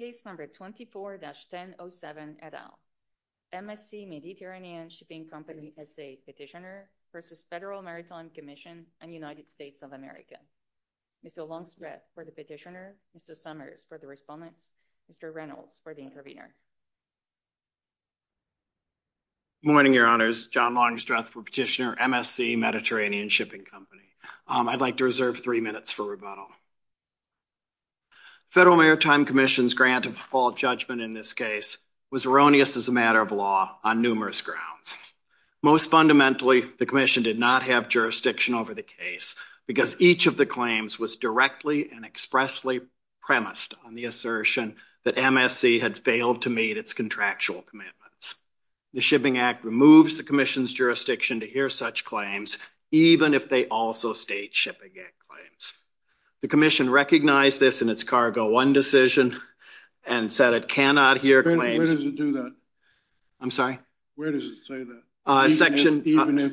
24-10-07 et al. MSC Mediterranean Shipping Company S.A. Petitioner v. Federal Maritime Commission and United States of America. Mr. Longstreth for the petitioner, Mr. Summers for the respondent, Mr. Reynolds for the intervener. Good morning, Your Honors. John Longstreth for Petitioner, MSC Mediterranean Shipping Company. I'd like to reserve three minutes for rebuttal. Federal Maritime Commission's grant of default judgment in this case was erroneous as a matter of law on numerous grounds. Most fundamentally, the commission did not have jurisdiction over the case because each of the claims was directly and expressly premised on the assertion that MSC had failed to meet its contractual commitments. The Shipping Act removes the commission's jurisdiction to hear such claims, even if they also state Shipping Act claims. The commission recognized this in its Cargo 1 decision and said it cannot hear claims. Where does it do that? I'm sorry? Where does it say that? Section... Even if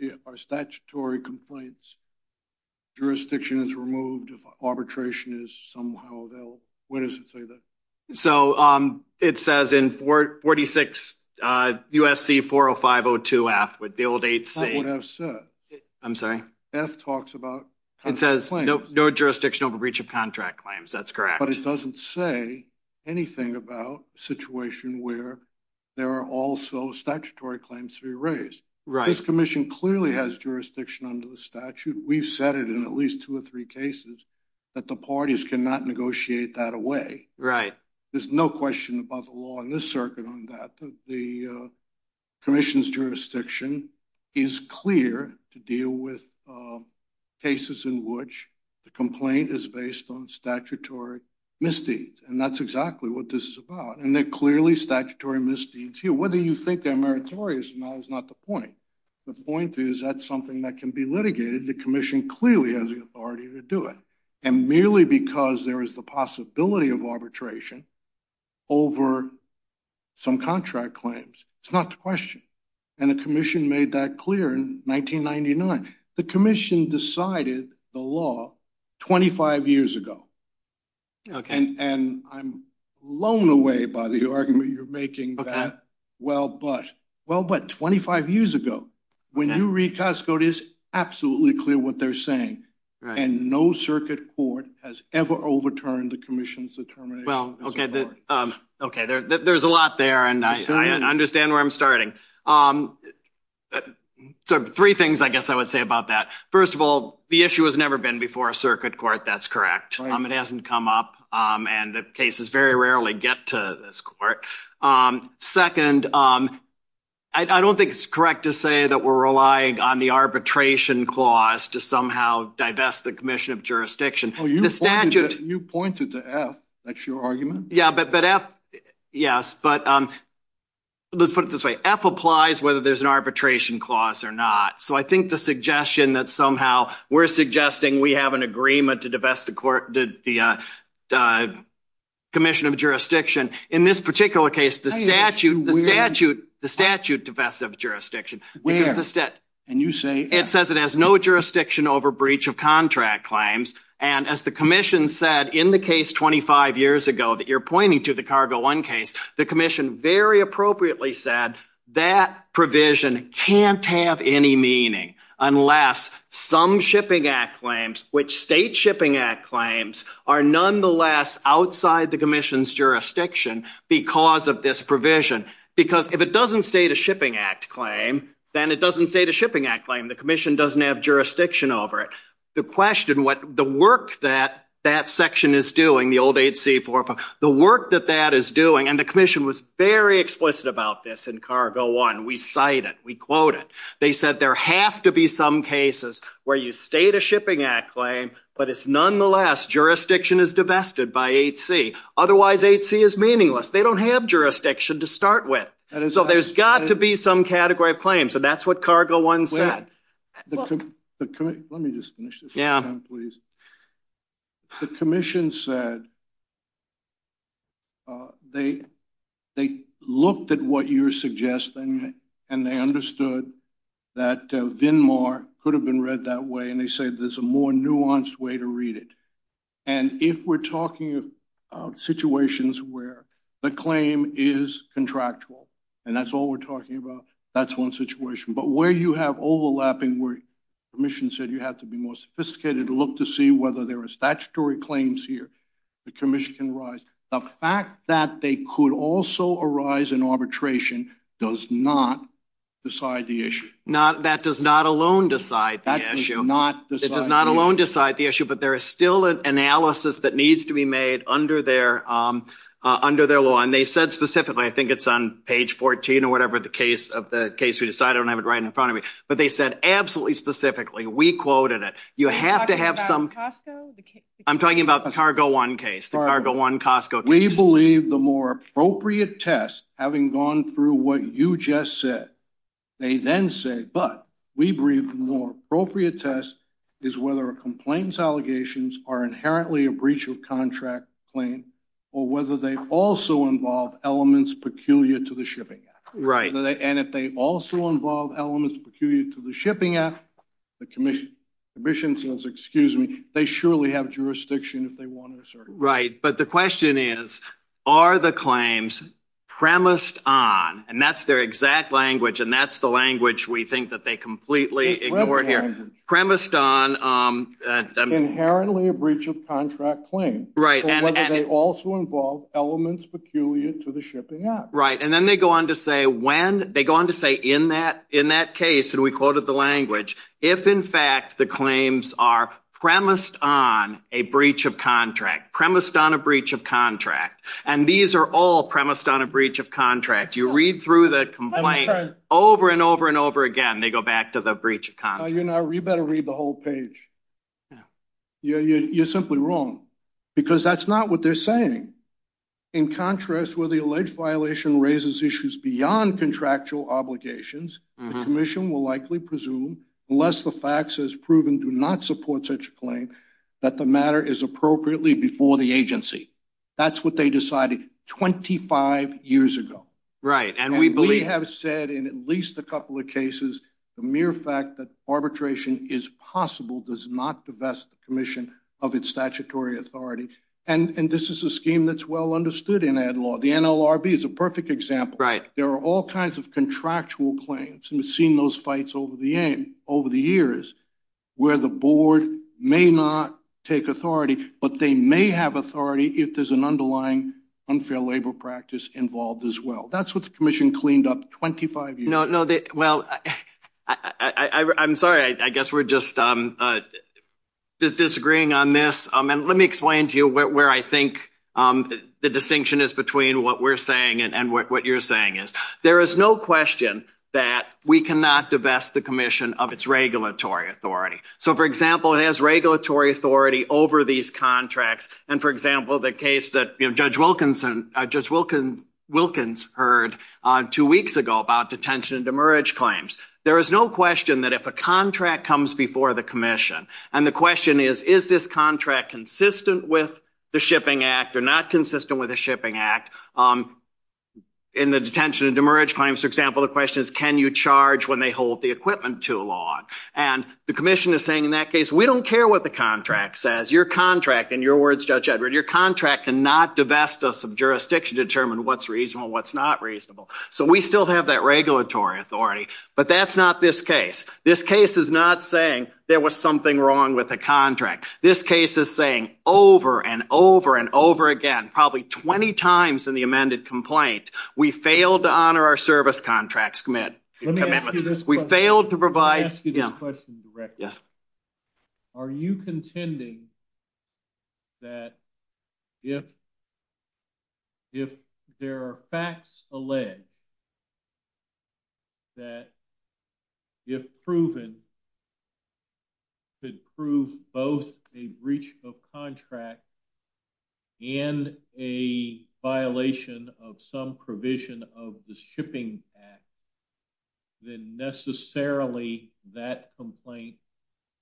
there are statutory complaints, jurisdiction is removed if arbitration is somehow available. Where does it say that? So, it says in 46 USC 40502F with the old 8C... That's what I said. I'm sorry? F talks about... It says no jurisdiction over breach of contract claims. That's correct. But it doesn't say anything about a situation where there are also statutory claims to be raised. Right. This commission clearly has jurisdiction under the statute. We've said it in at least two or three cases that the parties cannot negotiate that away. Right. There's no question about the law in this circuit on that. The commission's jurisdiction is clear to deal with cases in which the complaint is based on statutory misdeeds. And that's exactly what this is about. And they're clearly statutory misdeeds here. Whether you think they're meritorious or not is not the point. The point is that's something that can be clearly has the authority to do it. And merely because there is the possibility of arbitration over some contract claims. It's not the question. And the commission made that clear in 1999. The commission decided the law 25 years ago. And I'm blown away by the argument you're making that well, but. Well, but 25 years ago. When you read Costco, it is absolutely clear what they're saying. And no circuit court has ever overturned the commission's determination. Well, okay. There's a lot there. And I understand where I'm starting. Three things I guess I would say about that. First of all, the issue has never been before a circuit court. That's correct. It hasn't come up. And the cases very rarely get to this court. Second, I don't think it's correct to say that we're relying on the arbitration clause to somehow divest the commission of jurisdiction. You pointed to F. That's your argument? Yes. But let's put it this way. F applies whether there's an arbitration clause or not. So I think the suggestion that somehow we're suggesting we have an agreement to divest the commission of jurisdiction. In this particular case, the statute divest of jurisdiction. It says it has no jurisdiction over breach of contract claims. And as the commission said in the case 25 years ago that you're pointing to the cargo one case, the commission very appropriately said that provision can't have any meaning unless some shipping act claims, which state shipping act claims are nonetheless outside the commission's jurisdiction because of this provision. Because if it doesn't state a shipping act claim, then it doesn't state a shipping act claim. The commission doesn't have jurisdiction over it. The question, the work that that section is doing, the old 8C4, the work that that is doing, and the commission was very explicit about this in cargo one. We cite it. We quote it. They said there have to be some cases where you state a shipping act claim, but it's nonetheless jurisdiction is divested by 8C. Otherwise, 8C is meaningless. They don't have jurisdiction to start with. So there's got to be some category of claims. So that's what cargo one said. Let me just finish this one time, please. The commission said they looked at what you're suggesting, and they understood that VNMAR could have been read that way, and they said there's a more nuanced way to read it. And if we're talking about situations where the claim is contractual, and that's all we're talking about, that's one situation. But where you have overlapping where the commission said you have to be more sophisticated to look to see whether there are statutory claims here, the commission can rise. The fact that they could also arise in arbitration does not decide the issue. That does not alone decide the issue, but there is still an analysis that needs to be made under their law. And they said specifically, I think it's on page 14 or whatever the case of the case we decided, I don't have it right in front of me, but they said absolutely specifically, we quoted it. You have to have some. I'm talking about the cargo one case. The cargo one Costco case. We believe the more appropriate test, having gone through what you just said, they then say, but we believe the more appropriate test is whether a complaint's allegations are inherently a breach of contract claim, or whether they also involve elements peculiar to the shipping act. And if they also involve elements peculiar to the shipping act, the commission says, excuse me, they surely have jurisdiction if they want to assert it. Right. But the question is, are the claims premised on, and that's their exact language, and that's the language we think that they completely ignored here, premised on... Inherently a breach of contract claim. Right. Or whether they also involve elements peculiar to the shipping act. Right. And then they go on to say when, they go on to say in that case, and we quoted the language, if in fact the claims are premised on a breach of contract, premised on a breach of contract, and these are all premised on a breach of contract, you read through the complaint over and over and over again, they go back to the breach of contract. No, you know, you better read the whole page. You're simply wrong, because that's not what they're saying. In contrast, where the alleged violation raises issues beyond contractual obligations, the commission will likely presume, unless the facts as proven do not support such a claim, that the matter is appropriately before the agency. That's what they decided 25 years ago. Right. And we believe... And we have said in at least a couple of cases, the mere fact that arbitration is possible does not divest the commission of its statutory authority. And this is a scheme that's well understood in that law. The NLRB is a perfect example. Right. There are all kinds of contractual claims, and we've seen those fights over the years, where the board may not take authority, but they may have authority if there's an underlying unfair labor practice involved as well. That's what the commission cleaned up 25 years ago. No, no, well, I'm sorry, I guess we're just disagreeing on this. And let me explain to you where I think the distinction is between what we're saying and what you're saying is. There is no question that we cannot divest the commission of its regulatory authority. So for example, it has regulatory authority over these contracts. And for example, the case that Judge Wilkinson... Judge Wilkins heard two weeks ago about detention and demerge claims. There is no question that if a contract comes before the commission, and the question is, is this contract consistent with the Shipping Act? In the detention and demerge claims, for example, the question is, can you charge when they hold the equipment too long? And the commission is saying, in that case, we don't care what the contract says. Your contract, in your words, Judge Edward, your contract cannot divest us of jurisdiction to determine what's reasonable, what's not reasonable. So we still have that regulatory authority, but that's not this case. This case is not saying there was something wrong with the contract. This case is saying over and over and over again, probably 20 times in the amended complaint, we failed to honor our service contracts. We failed to provide... Let me ask you a question, Director. Are you contending that if there are facts alleged that if proven, could prove both a breach of contract and a violation of some provision of the Shipping Act, then necessarily that complaint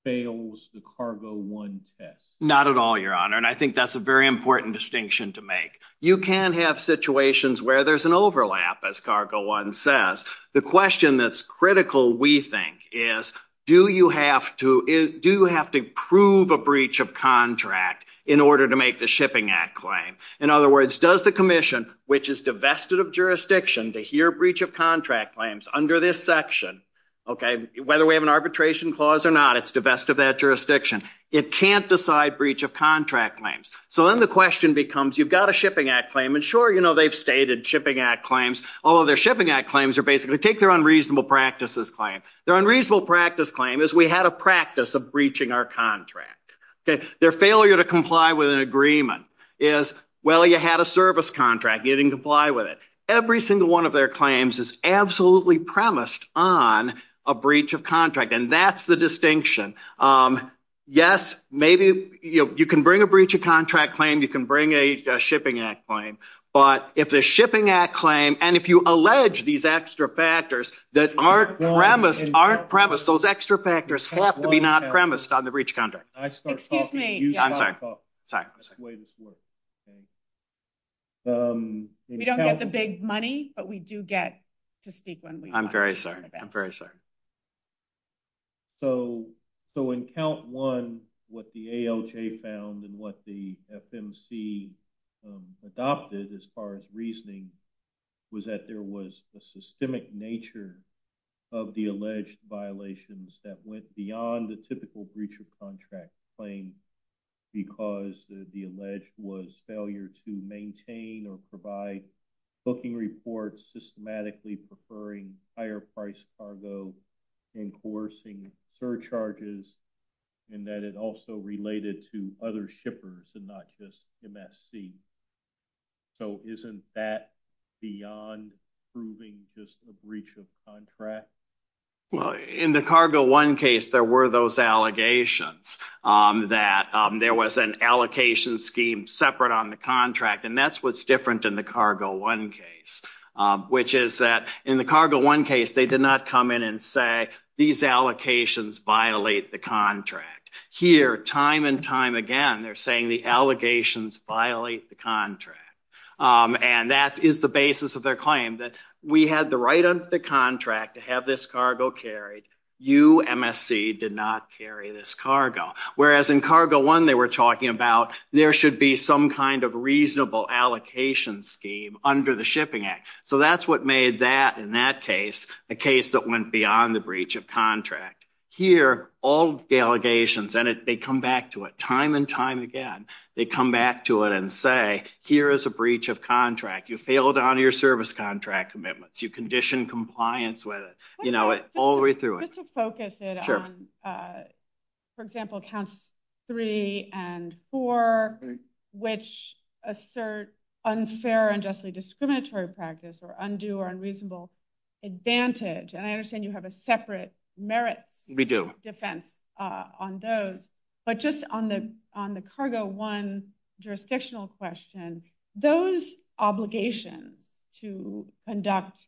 fails the Cargo I test? Not at all, Your Honor. And I think that's a very important distinction to make. You can have situations where there's an overlap, as Cargo I says. The question that's critical, we think, is do you have to prove a breach of contract in order to make the Shipping Act claim? In other words, does the commission, which is divested of jurisdiction to hear breach of contract claims under this section, whether we have an arbitration clause or not, it's divested that jurisdiction, it can't decide breach of contract claims. So then the question becomes, you've got a Shipping Act claim. And sure, they've stated Shipping Act claims. All of their Shipping Act claims are basically, take their unreasonable practices claim. Their unreasonable practice claim is we had a practice of breaching our contract. Their failure to comply with an agreement is, well, you had a service contract, you didn't comply with it. Every single one of their claims is absolutely premised on a breach of contract. And that's the distinction. Yes, maybe you can bring a breach of contract claim, you can bring a Shipping Act claim. But if the Shipping Act claim, and if you allege these extra factors that aren't premised, those extra factors have to be not premised on the breach of contract. Excuse me. We don't get the big money, but we do the ALJ found and what the FMC adopted as far as reasoning was that there was a systemic nature of the alleged violations that went beyond the typical breach of contract claim. Because the alleged was failure to maintain or provide booking reports systematically preferring higher price cargo and coercing surcharges and that it also related to other shippers and not just MSC. So isn't that beyond proving just a breach of contract? Well, in the Cargo 1 case, there were those allegations that there was an allocation scheme separate on the contract. And that's what's different in the Cargo 1 case, which is that in the Cargo 1 case, they did not come in and say these allocations violate the contract. Here, time and time again, they're saying the allegations violate the contract. And that is the basis of their claim that we had the right under the contract to have this cargo carried. You, MSC, did not carry this cargo. Whereas in Cargo 1, they were talking about there should be some kind of reasonable allocation scheme under the Shipping Act. So that's what made that, in that case, a case that went beyond the breach of contract. Here, all the allegations, and they come back to it time and time again, they come back to it and say, here is a breach of contract. You failed on your service contract commitments. You conditioned compliance with it, all the way through it. Let's just focus it on, for example, counts three and four, which assert unfair and justly discriminatory practice or undue or unreasonable advantage. And I understand you have a separate merit defense on those. But just on the Cargo 1 jurisdictional question, those obligations to conduct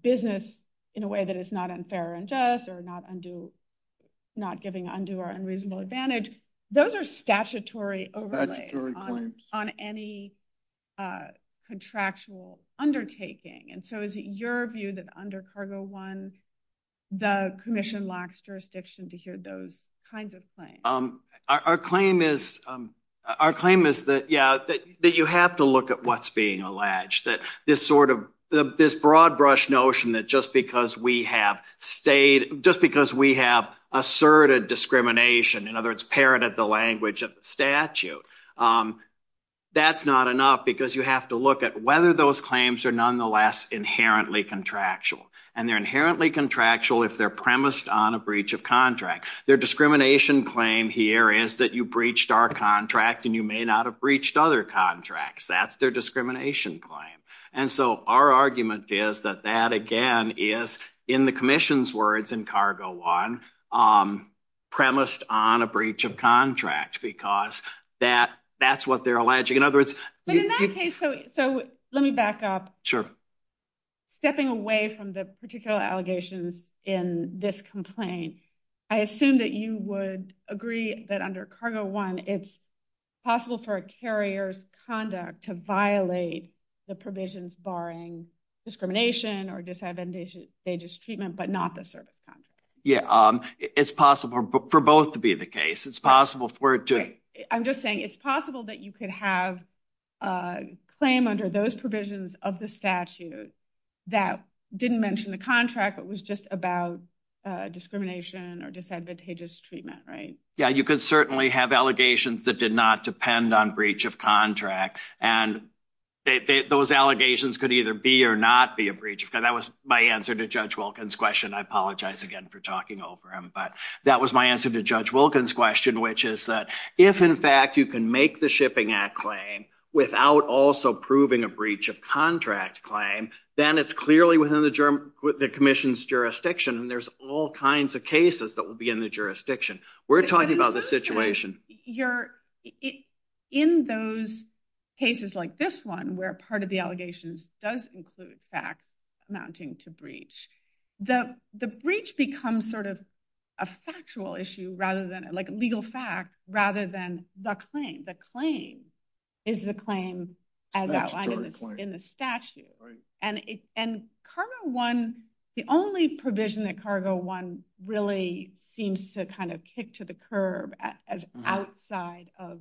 business in a way that is not unfair and just or not giving undue or unreasonable advantage, those are statutory overlays on any contractual undertaking. And so is it your view that under Cargo 1, the Commission locks jurisdiction to hear those kinds of claims? Our claim is that, yeah, that you have to look at what's being alleged. This sort of, this broad brush notion that just because we have asserted discrimination, in other words, parroted the language of the statute, that's not enough because you have to look at whether those claims are nonetheless inherently contractual. And they're inherently contractual if they're premised on a breach of contract. Their discrimination claim here is that you breached our contract and you may not have breached other contracts. That's their discrimination claim. And so our argument is that that, again, is in the Commission's words in Cargo 1, premised on a breach of contract because that's what they're alleging. In other words- But in that case, so let me back up. Sure. Stepping away from the particular allegations in this complaint, I assume that you would agree that under Cargo 1, it's possible for a carrier's conduct to violate the provisions barring discrimination or disadvantageous treatment, but not the service contract? Yeah. It's possible for both to be the case. It's possible for it to- I'm just saying it's possible that you could have a claim under those provisions of the statute that didn't mention the contract, but was just about discrimination or disadvantageous treatment, right? Yeah. You could certainly have allegations that did not depend on breach of contract. And those allegations could either be or not be a breach of contract. That was my answer to Judge Wilkins' question. I apologize again for talking over him, but that was my answer to Judge Wilkins' question, which is that if in fact you can make the Shipping Act claim without also proving a breach of contract claim, then it's clearly within the commission's jurisdiction and there's all kinds of cases that would be in the jurisdiction. We're talking about the situation. In those cases like this one, where part of the allegations does include facts amounting to the breach, the breach becomes sort of a factual issue rather than a legal fact, rather than the claim. The claim is the claim as outlined in the statute. And the only provision that Cargo 1 really seems to kind of kick to the curb as outside of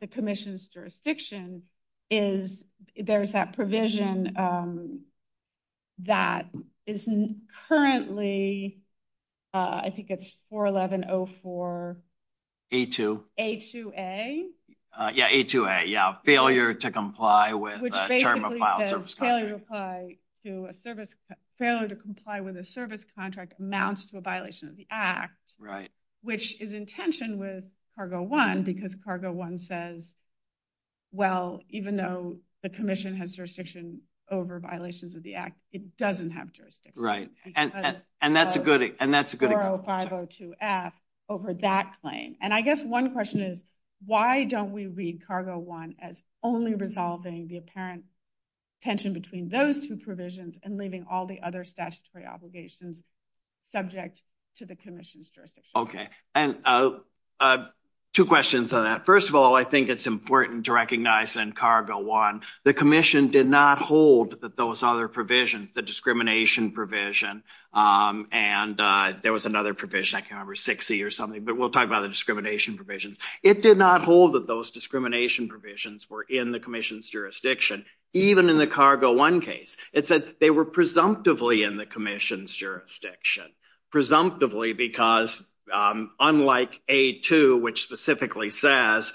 the commission's jurisdiction is there's that provision that is currently, I think it's 411.04. A2. A2A. Yeah, A2A. Yeah, failure to comply with a term of file service contract. Which basically says failure to comply with a service contract amounts to a violation of the Cargo 1 because Cargo 1 says, well, even though the commission has jurisdiction over violations of the Act, it doesn't have jurisdiction. Right. And that's a good example. And that's a good example. 40502F over that claim. And I guess one question is why don't we read Cargo 1 as only resolving the apparent tension between those two provisions and leaving all the other statutory obligations subject to the commission's jurisdiction? Okay. And two questions on that. First of all, I think it's important to recognize in Cargo 1, the commission did not hold that those other provisions, the discrimination provision, and there was another provision, I can't remember, 60 or something, but we'll talk about the discrimination provisions. It did not hold that those discrimination provisions were in the commission's jurisdiction, even in the Cargo 1 case. It said they were presumptively in the commission's jurisdiction. Presumptively because unlike A2, which specifically says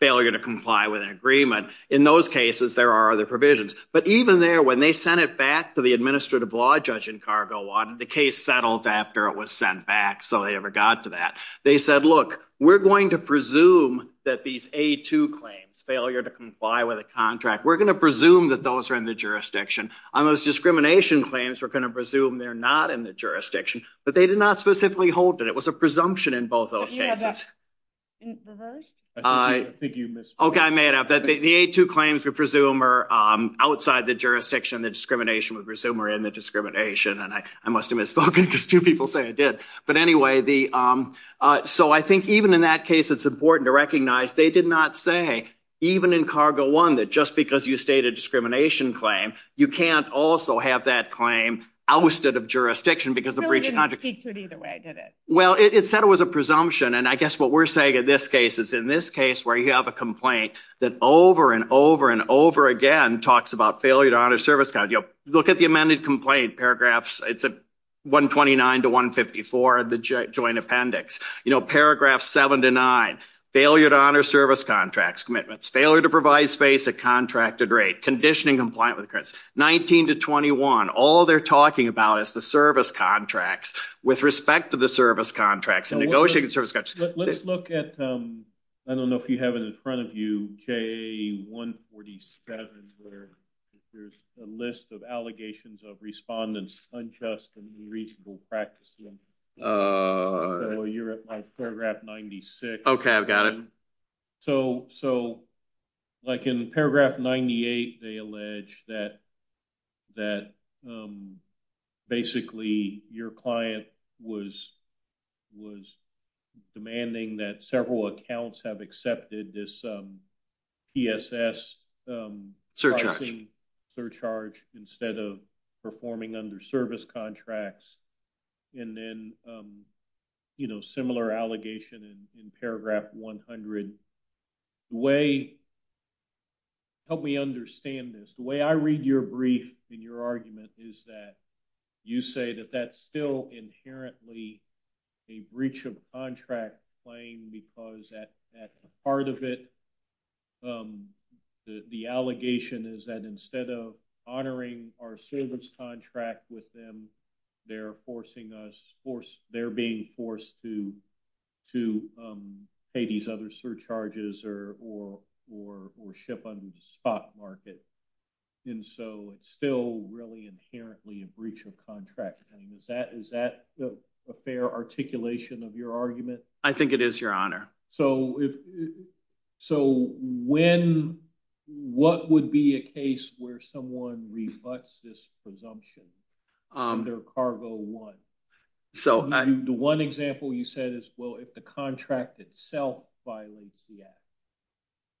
failure to comply with an agreement, in those cases, there are other provisions. But even there, when they sent it back to the administrative law judge in Cargo 1, the case settled after it was sent back. So they never got to that. They said, look, we're going to presume that these A2 claims, failure to comply with a contract, we're going to presume that those are in the jurisdiction. On those discrimination claims, we're going to presume they're not in the jurisdiction, but they did not specifically hold it. It was a presumption in both of those cases. Okay. I made up. The A2 claims, we presume are outside the jurisdiction. The discrimination, we presume are in the discrimination. And I must have misspoken because two people say I did. But anyway, so I think even in that case, it's important to recognize they did not say, even in Cargo 1, that just because you state a discrimination claim, you can't also have that claim ousted of jurisdiction. Really didn't speak to it either way, did it? Well, it said it was a presumption. And I guess what we're saying in this case is in this case where you have a complaint that over and over and over again talks about failure to honor service contracts. Look at the amended complaint paragraphs. It's at 129 to 154 of the joint appendix. Paragraphs 7 to 9, failure to honor service contracts, commitments, failure to provide space at contracted rate, conditioning compliant with credits. 19 to 21, all they're talking about is the service contracts with respect to the service contracts and negotiating service contracts. Let's look at, I don't know if you have it in front of you, KA 147 where there's a list of allegations of respondents unjust and unreasonable practice. You're at paragraph 96. Okay, I've got it. So like in paragraph 98, they allege that basically your client was demanding that accounts have accepted this PSS surcharge instead of performing under service contracts. And then similar allegation in paragraph 100. Help me understand this. The way I read your brief and your argument is that you say that that's still inherently a breach of contract claim because that's part of it. The allegation is that instead of honoring our service contract with them, they're being forced to pay these other surcharges or ship under the stock market. And so it's still really inherently a breach of contract. Is that a fair articulation of your argument? I think it is your honor. So what would be a case where someone reflects this presumption under cargo one? The one example you said is, well, if the contract itself violates the act,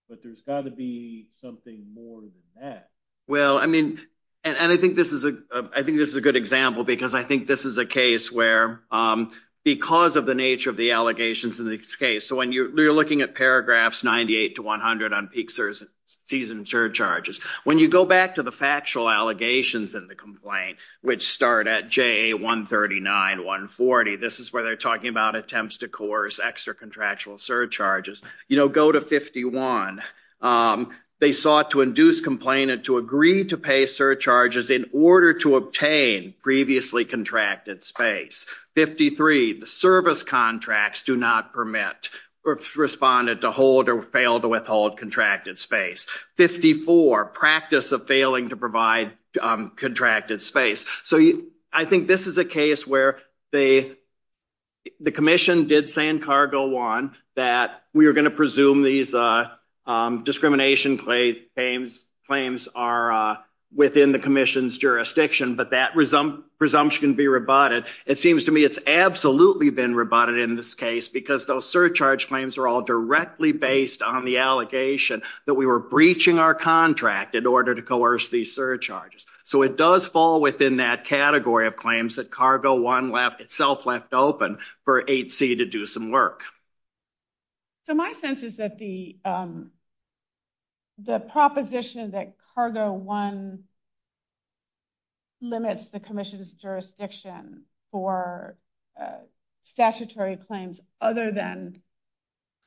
but there's got to be something more than that. Well, I mean, and I think this is a good example because I think this is a case where because of the nature of the allegations in this case, so when you're looking at paragraphs 98 to 100 on peak season surcharges, when you go back to the factual allegations in the complaint, which start at J139, 140, this is where they're talking about attempts to coerce extra contractual surcharges, you know, go to 51. They sought to induce complainant to agree to pay surcharges in order to obtain previously contracted space. 53, the service contracts do not permit or responded to hold or fail to withhold contracted space. 54, practice of failing to provide contracted space. So I think this is a case where the commission did say in cargo one that we are going to presume these discrimination claims are within the commission's jurisdiction, but that presumption can be rebutted. It seems to me it's absolutely been rebutted in this case because those surcharge claims are all directly based on the allegation that we were breaching our contract in order to coerce these surcharges. So it does fall within that category of claims that cargo one left itself left open for HC to do some work. So my sense is that the proposition that cargo one limits the commission's jurisdiction for statutory claims other than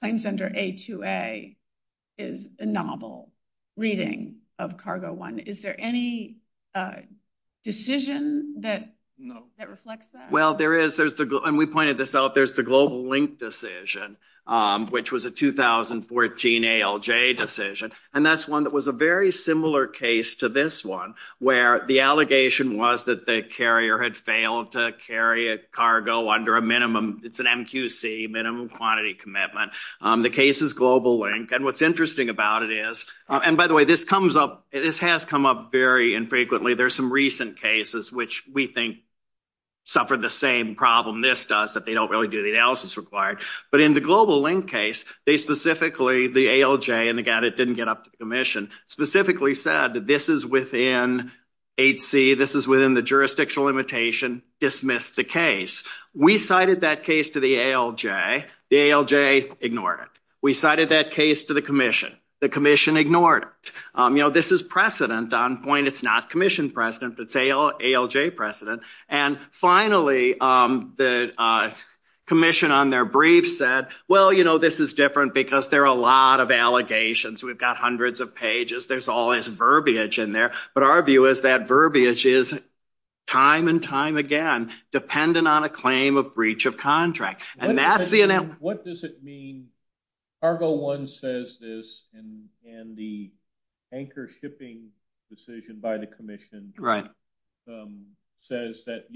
claims under A2A is a novel reading of cargo one. Is there any decision that reflects that? Well, there is. And we pointed this out. There's the global link decision, which was a 2014 ALJ decision. And that's one that was a very similar case to this one, where the allegation was that the carrier had failed to carry a cargo under a minimum, it's an MQC, minimum quantity commitment. The case is global link. And what's interesting about it is, and by the way, this has come up very infrequently. There's some recent cases which we think suffered the same problem this does, that they don't really do the analysis required. But in the global link case, they specifically, the ALJ and the guy that didn't get up to the commission, specifically said that this is within HC, this is within the jurisdictional limitation, dismiss the case. We cited that case to the ALJ, the ALJ ignored it. We cited that case to the commission, the commission ignored it. This is precedent on point, it's not commission precedent, it's ALJ precedent. And finally, the commission on their brief said, well, this is different because there are a lot of allegations. We've got hundreds of pages, there's always verbiage in there. But our view is that verbiage is time and time again, dependent on a claim of breach of contract. And that's the- What does it mean, cargo one says this, and the anchor shipping decision by the commission says that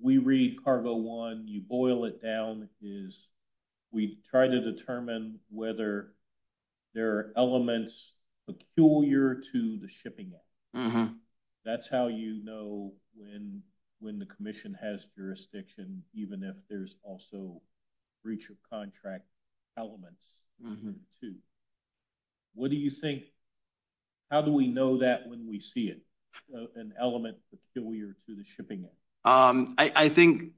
we read cargo one, you boil it down is we try to determine whether there are elements peculiar to the shipping. That's how you know when the commission has jurisdiction, even if there's also breach of contract elements. What do you think, how do we know that when we see it, an element peculiar to the shipping? I think,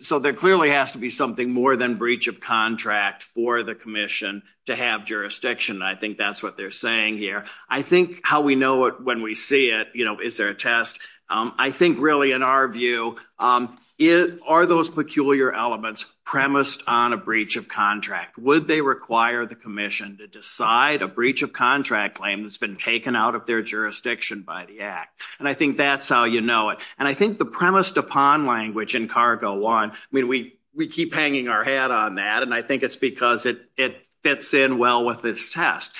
so there clearly has to be something more than breach of contract for the commission to have jurisdiction. And I think that's what they're saying here. I think how we know it when we see it, is there a test? I think really in our view, are those peculiar elements premised on a breach of contract? Would they require the commission to decide a breach of contract claim that's been taken out of their jurisdiction by the act? And I think that's how you know it. And I think the premised upon language in cargo one, I mean, we keep hanging our hat on that. And I think it's because it fits in well with this test.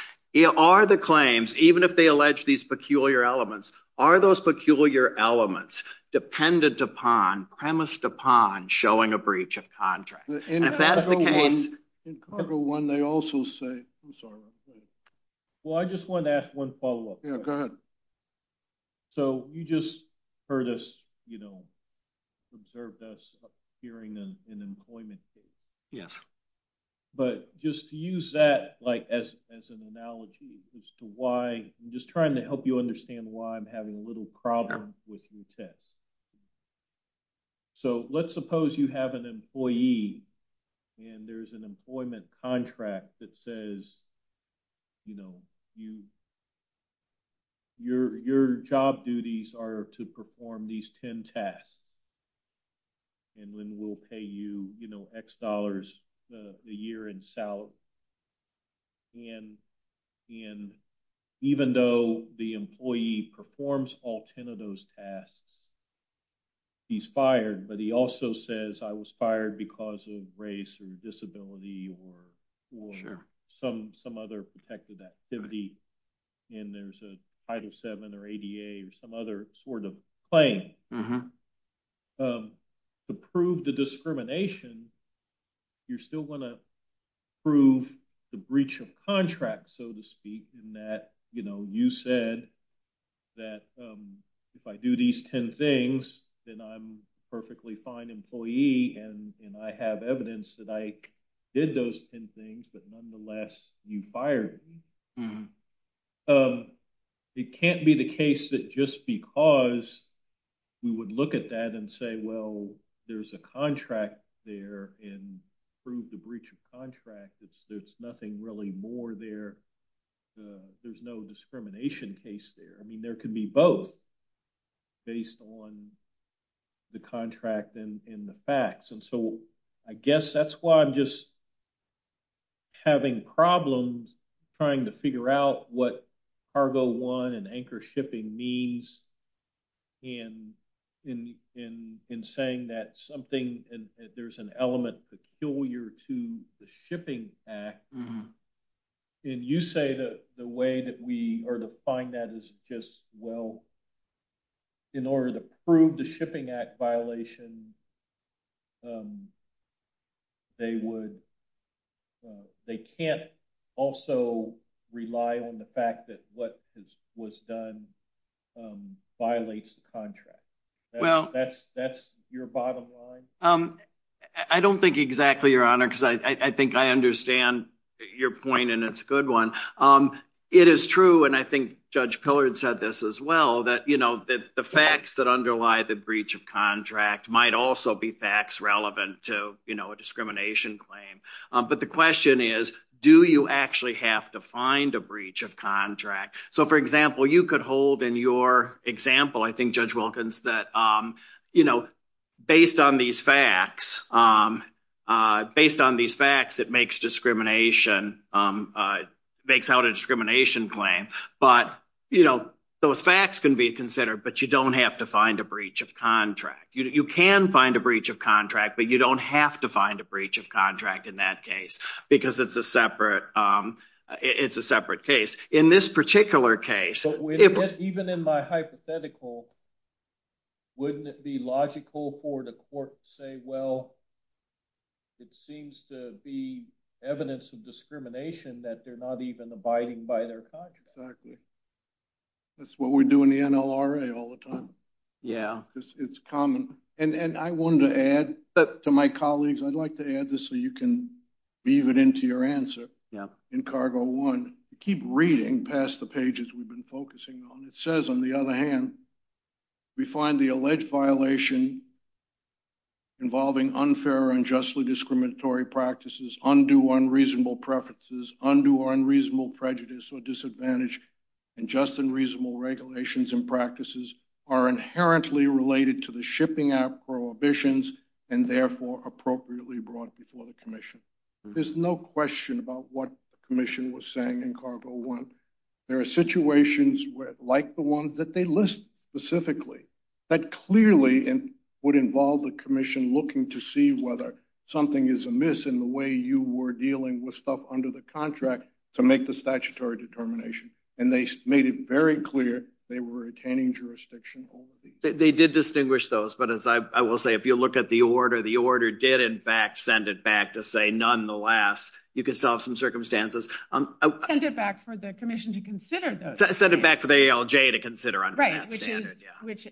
Are the claims, even if they allege these peculiar elements, are those peculiar elements dependent upon, premised upon showing a breach of contract? In cargo one, they also say, I'm sorry. Well, I just wanted to ask one follow up. Go ahead. So you just heard us, you know, observed us hearing an employment case. Yes. But just to use that like as an analogy as to why I'm just trying to help you understand why I'm having little problems with your test. So let's suppose you have an employee and there's an employment contract that says, you know, your job duties are to perform these 10 tasks. And when we'll pay you, you know, X dollars a year in salary. And even though the employee performs all 10 of those tasks, he's fired. But he also says, I was fired because of race and disability or some other protected activity. And there's a Title VII or ADA or some other sort of claim. To prove the discrimination, you still want to prove the breach of contract, so to speak, in that, you know, you said that if I do these 10 things, then I'm a perfectly fine employee. And I have evidence that I did those 10 things, but nonetheless, you fired me. It can't be the case that just because we would look at that and say, well, there's a contract there and prove the breach of contract. It's nothing really more there. There's no discrimination case there. I mean, there could be both based on the contract and the facts. And so I guess that's why I'm just having problems trying to figure out what Cargo I and anchor shipping means in saying that something, there's an element peculiar to the Shipping Act and you say that the way that we are to find that is just, well, in order to prove the Shipping Act violation, they would, they can't also rely on the fact that what was done violates the contract. Well, I don't think exactly your honor, because I think I understand your point and it's a good one. It is true. And I think judge Pillard said this as well, that, you know, the facts that underlie the breach of contract might also be facts relevant to, you know, a discrimination claim. But the question is, do you actually have to find a breach of contract? So for example, you could hold in your example, I think judge Wilkins that, you know, based on these facts, based on these facts that makes discrimination, makes out a discrimination claim, but, you know, those facts can be considered, but you don't have to find a breach of contract. You can find a breach of contract, but you don't have to find a breach of contract in that case, because it's a separate, it's a separate case. In this particular case, even in my hypothetical, wouldn't it be logical for the court to say, well, it seems to be evidence of discrimination that they're not even abiding by their contract? Exactly. That's what we do in the NLRA all the time. Yeah. It's common. And I wanted to add to my colleagues, I'd like to add this so you can weave it into your answer. Yeah. In cargo one, keep reading past the pages we've been focusing on. It says on the other hand, we find the alleged violation involving unfair and justly discriminatory practices, undue unreasonable preferences, undue unreasonable prejudice or disadvantage, and just and reasonable regulations and practices are inherently related to the prohibitions and therefore appropriately brought before the commission. There's no question about what the commission was saying in cargo one. There are situations like the one that they list specifically that clearly would involve the commission looking to see whether something is amiss in the way you were dealing with stuff under the contract to make the statutory determination. And they made it very clear they were attaining jurisdiction. They did distinguish those, but as I will say, if you look at the order, the order did in fact send it back to say, nonetheless, you can still have some circumstances. Send it back for the commission to consider. Send it back to the ALJ to consider. Right. Which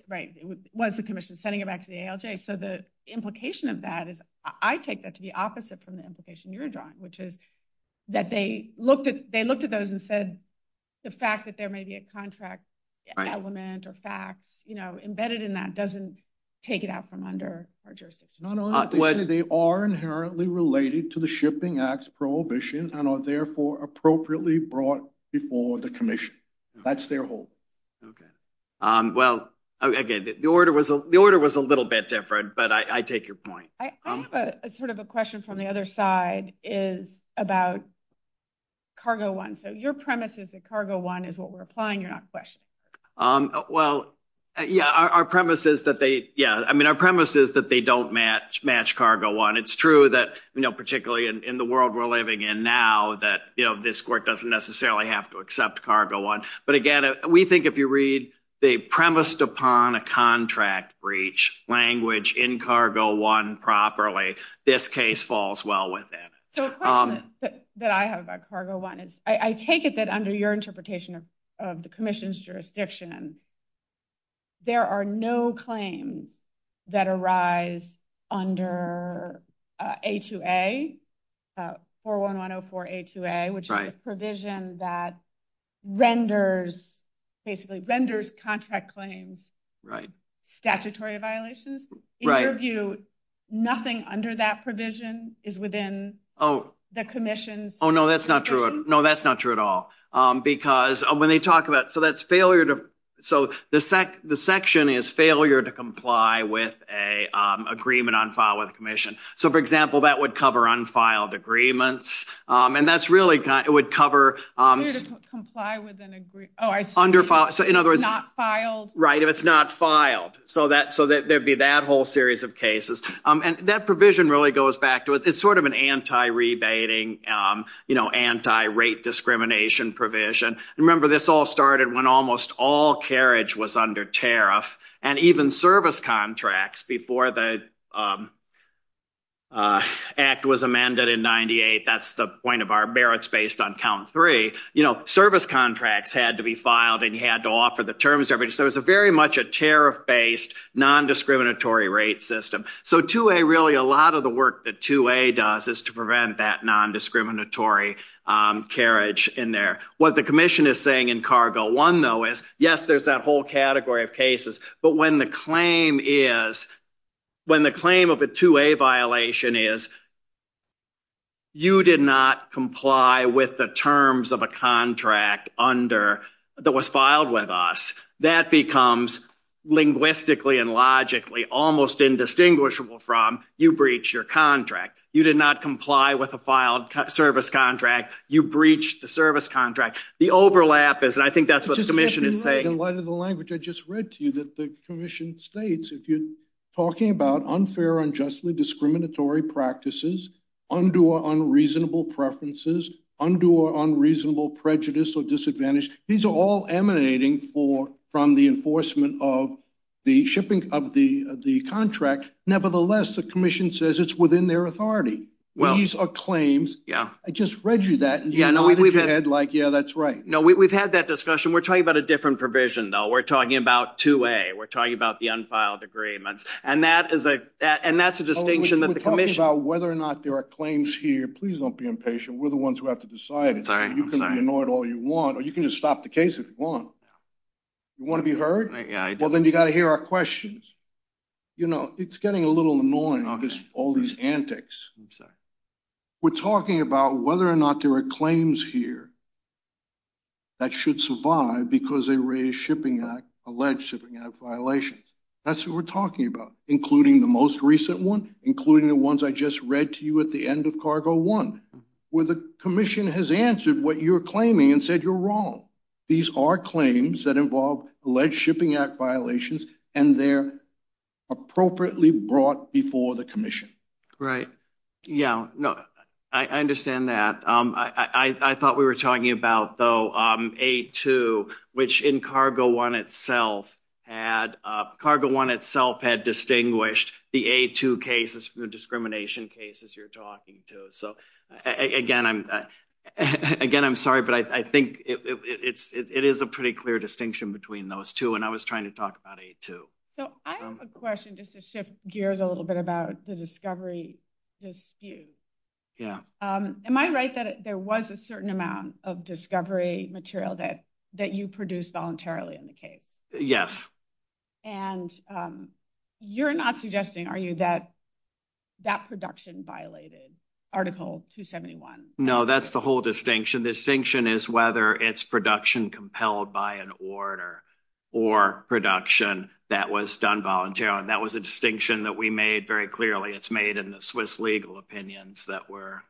was the commission sending it back to the ALJ. So the implication of that is I take that to be opposite from the implication you're drawing, which is that they looked at those and said the fact that there may be a contract element or fact embedded in that doesn't take it out from under our jurisdiction. They are inherently related to the shipping acts prohibition and are therefore appropriately brought before the commission. That's their whole. Okay. Well, again, the order was a little bit different, but I take your point. I have sort of a question from the other side is about cargo one. So your premise is that cargo one is what we're applying. You're not Yeah. Our premise is that they, yeah. I mean, our premise is that they don't match cargo one. It's true that, you know, particularly in the world we're living in now that, you know, this court doesn't necessarily have to accept cargo one. But again, we think if you read the premised upon a contract breach language in cargo one properly, this case falls well with that. That I have a cargo one. I take it that under your interpretation of the commission's jurisdiction there are no claims that arise under A2A, 41104 A2A, which is a provision that renders basically renders contract claims. Right. Statutory violations. Right. In your view, nothing under that provision is within the commission's. Oh, no, that's not true. No, so the section is failure to comply with a agreement on file of commission. So, for example, that would cover unfiled agreements. And that's really, it would cover under file. So, in other words, not filed. Right. If it's not filed. So that, so there'd be that whole series of cases. And that provision really goes back to it. It's sort of an anti-rebating, you know, anti-rape discrimination provision. Remember this all started when almost all carriage was under tariff and even service contracts before the act was amended in 98. That's the point of our merits based on count three, you know, service contracts had to be filed and you had to offer the terms. So it was a very much a tariff based non-discriminatory rate system. So 2A, really a lot of the work that 2A does is to make sure that there's no non-discriminatory carriage in there. What the commission is saying in cargo one though is, yes, there's that whole category of cases, but when the claim is, when the claim of a 2A violation is, you did not comply with the terms of a contract under that was filed with us, that becomes linguistically and logically almost indistinguishable from you breach your contract. You did not comply with a filed service contract. You breached the service contract. The overlap is, and I think that's what the commission is saying. In light of the language I just read to you that the commission states, if you're talking about unfair, unjustly discriminatory practices, undue or unreasonable preferences, undue or unreasonable prejudice or disadvantage, these are all emanating from the enforcement of the shipping of the contract. Nevertheless, the commission says it's within their authority. These are claims. I just read you that. Yeah, no, we've had that discussion. We're talking about a different provision though. We're talking about 2A. We're talking about the unfiled agreements. And that's a distinction that the commission- We're talking about whether or not there are claims here. Please don't be impatient. We're the ones who have to decide it. You can ignore it all you want, or you can just stop the case if you want. You want to be heard? Well, then you got to hear our questions. You know, it's getting a little annoying, all these antics. We're talking about whether or not there are claims here that should survive because they raise shipping act, alleged shipping act violation. That's what we're talking about, including the most recent one, including the ones I just read to you at the end of cargo one, where the commission has answered what you're claiming and said you're wrong. These are claims that involve alleged shipping act violations and they're appropriately brought before the commission. Right. Yeah. No, I understand that. I thought we were talking about though, A2, which in cargo one itself had, cargo one itself had distinguished the A2 cases from the discrimination cases you're talking to. So again, again, I'm sorry, but I think it is a pretty clear distinction between those two. And I was trying to talk about A2. So I have a question just to shift gears a little bit about the discovery dispute. Yeah. Am I right that there was a certain amount of discovery material that you produced voluntarily in the case? Yes. And you're not suggesting, are you, that that production violated article 271? No, that's the whole distinction. The distinction is whether it's production compelled by an order or production that was done voluntarily. That was a distinction that we made very clearly. It's made in the Swiss legal opinions that were.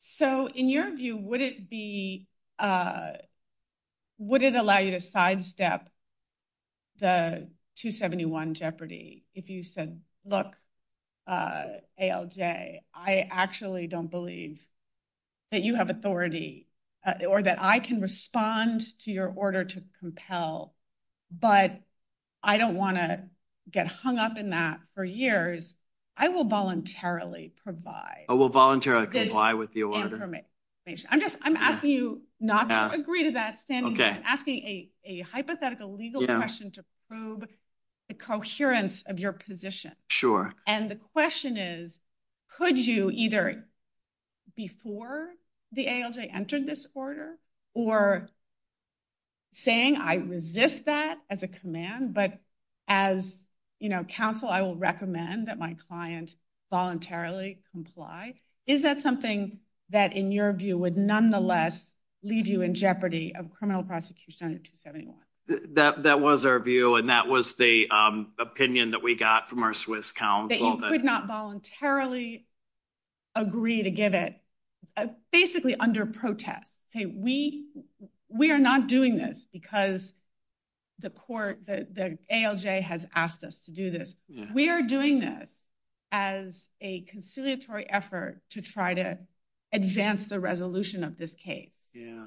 So in your view, would it be, would it allow you to sidestep the 271 jeopardy if you said, look, ALJ, I actually don't believe that you have authority or that I can respond to your order to compel, but I don't want to get hung up in that for years. I will voluntarily provide. I will voluntarily provide with the order. I'm just, I'm asking you not to agree to that, asking a hypothetical legal question to prove the coherence of your position. Sure. And the question is, could you either before the ALJ entered this order or saying, I resist that as a command, but as, you know, counsel, I will recommend that my client voluntarily comply. Is that something that in your view would nonetheless leave you in jeopardy of criminal prosecution under 271? That was our view. And that was the opinion that we got from our Swiss counsel. That you could not voluntarily agree to give it, basically under protest. Okay. We, we are not doing this because the court, the ALJ has asked us to do this. We are doing that as a conciliatory effort to try to advance the resolution of this case. Yeah.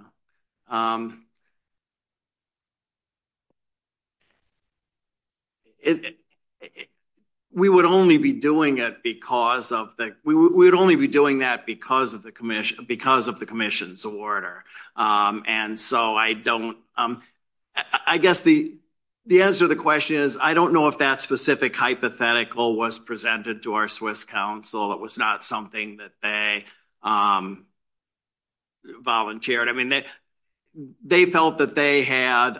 We would only be doing it because of the, we would only be doing that because of the commission, because of the commission's order. And so I don't, I guess the, the answer to the question is, I don't know if that specific hypothetical was presented to our Swiss counsel. It was not something that they volunteered. I mean, they felt that they had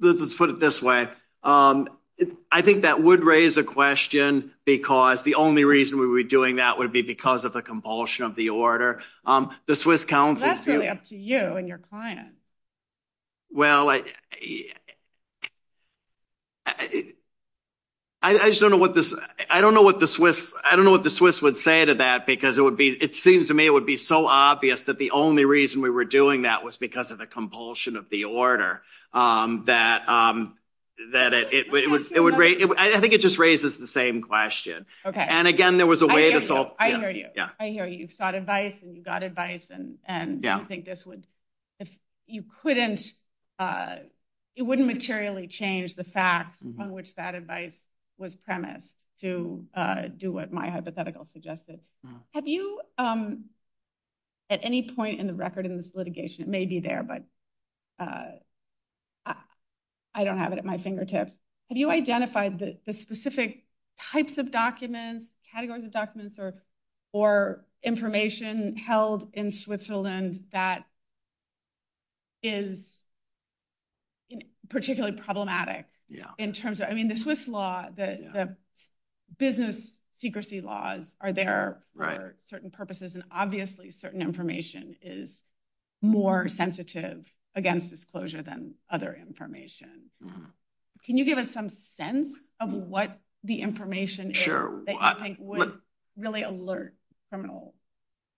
let's put it this way. I think that would raise a question because the only reason we were doing that would be because of a compulsion of the order. The Swiss counsel. That's really up to you and your client. Well, I, I just don't know what this, I don't know what the Swiss, I don't know what the Swiss would say to that because it would be, it seems to me it would be so obvious that the only reason we were doing that was because of the compulsion of the order that, that it would, it would raise, I think it just raises the same question. Okay. And again, there was a way to solve. I hear you've sought advice and you've got advice and, and you think this would, you couldn't, it wouldn't materially change the fact on which that advice was premise to do what my hypothetical suggested. Have you at any point in the record of this litigation, it may be there, but I don't have it at my fingertips. Have you identified the specific types of documents, categories of documents or, or information held in Switzerland that is particularly problematic in terms of, I mean, the Swiss law, the business secrecy laws are there for certain purposes and obviously certain information is more sensitive against disclosure than other information. Can you give us some sense of what the information is that you think would really alert criminal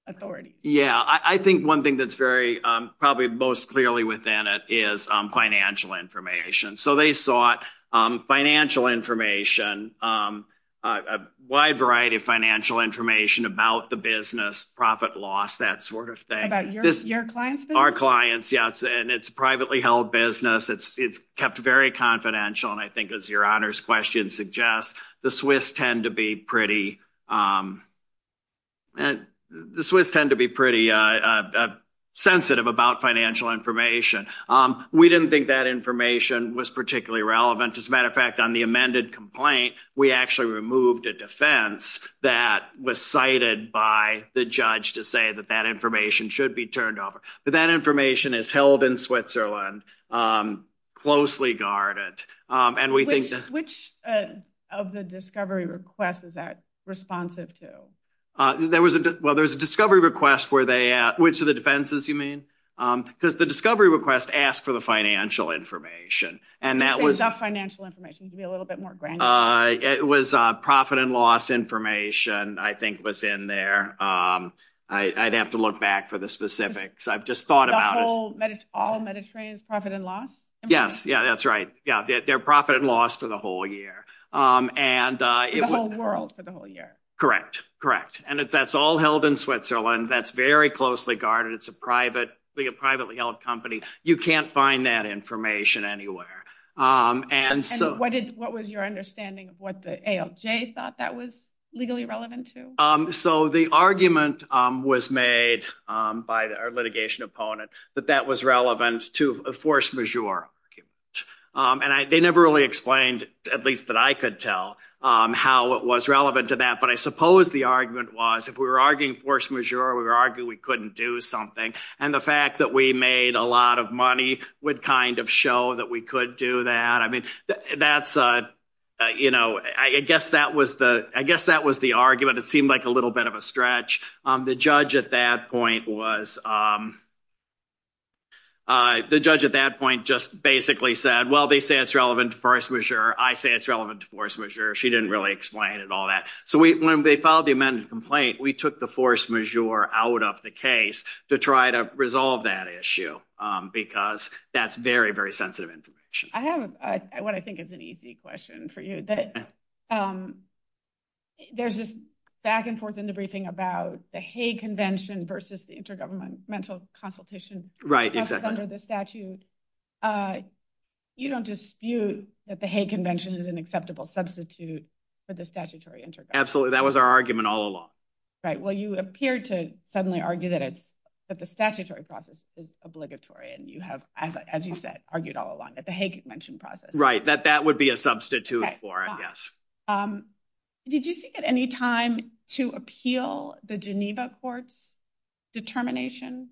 authority? Yeah. I think one thing that's very probably most clearly within it is financial information. So they sought financial information, a wide variety of financial information about the business, profit loss, that sort of thing. About your clients? Our clients. Yes. And it's privately held business. It's, it's kept very confidential. And I think as your honors question suggests, the Swiss tend to be pretty and the Swiss tend to be pretty sensitive about financial information. We didn't think that information was particularly relevant. As a matter of fact, on the amended complaint, we actually removed a defense that was cited by the judge to say that that information should be turned over. But that information is held in Switzerland, closely guarded. And we think that- Which of the discovery requests is that responsive to? There was a, well, there was a discovery request where they, which of the defenses you mean? The discovery request asked for the financial information and that was- Is that financial information to be a little bit more granular? It was profit and loss information, I think was in there. I'd have to look back for the specifics. I've just thought about it. All Mediterranean profit and loss? Yes. Yeah, that's right. Yeah. They're profit and loss for the whole year. And- The whole world for the whole year. Correct. Correct. And that's all held in Switzerland. That's very closely guarded. It's a privately held company. You can't find that information anywhere. And so- And what was your understanding of what the ALJ thought that was legally relevant to? So the argument was made by our litigation opponent that that was relevant to a force majeure. And they never really explained, at least that I could tell, how it was relevant to that. But I suppose the argument was if we were arguing force majeure, we were arguing we couldn't do something. And the fact that we made a lot of money would kind of show that we could do that. That's- I guess that was the argument. It seemed like a little bit of a stretch. The judge at that point just basically said, well, they say it's relevant to force majeure. I say it's relevant to force majeure. She didn't really explain it, all that. So when they filed the amended complaint, we took the force majeure out of the case to try to resolve that issue because that's very, very sensitive information. I have what I think is an easy question for you. There's this back and forth in the briefing about the Hague Convention versus the Intergovernmental Consultation- Right, exactly. Under the statute. You don't dispute that the Hague Convention is an acceptable substitute for the statutory intervention. Absolutely. That was our argument all along. Right. Well, you appear to suddenly argue that the statutory process is obligatory. And you have, as you said, argued all along that the Hague Convention process- Right, that that would be a substitute for it, yes. Did you take any time to appeal the Geneva Court's determination?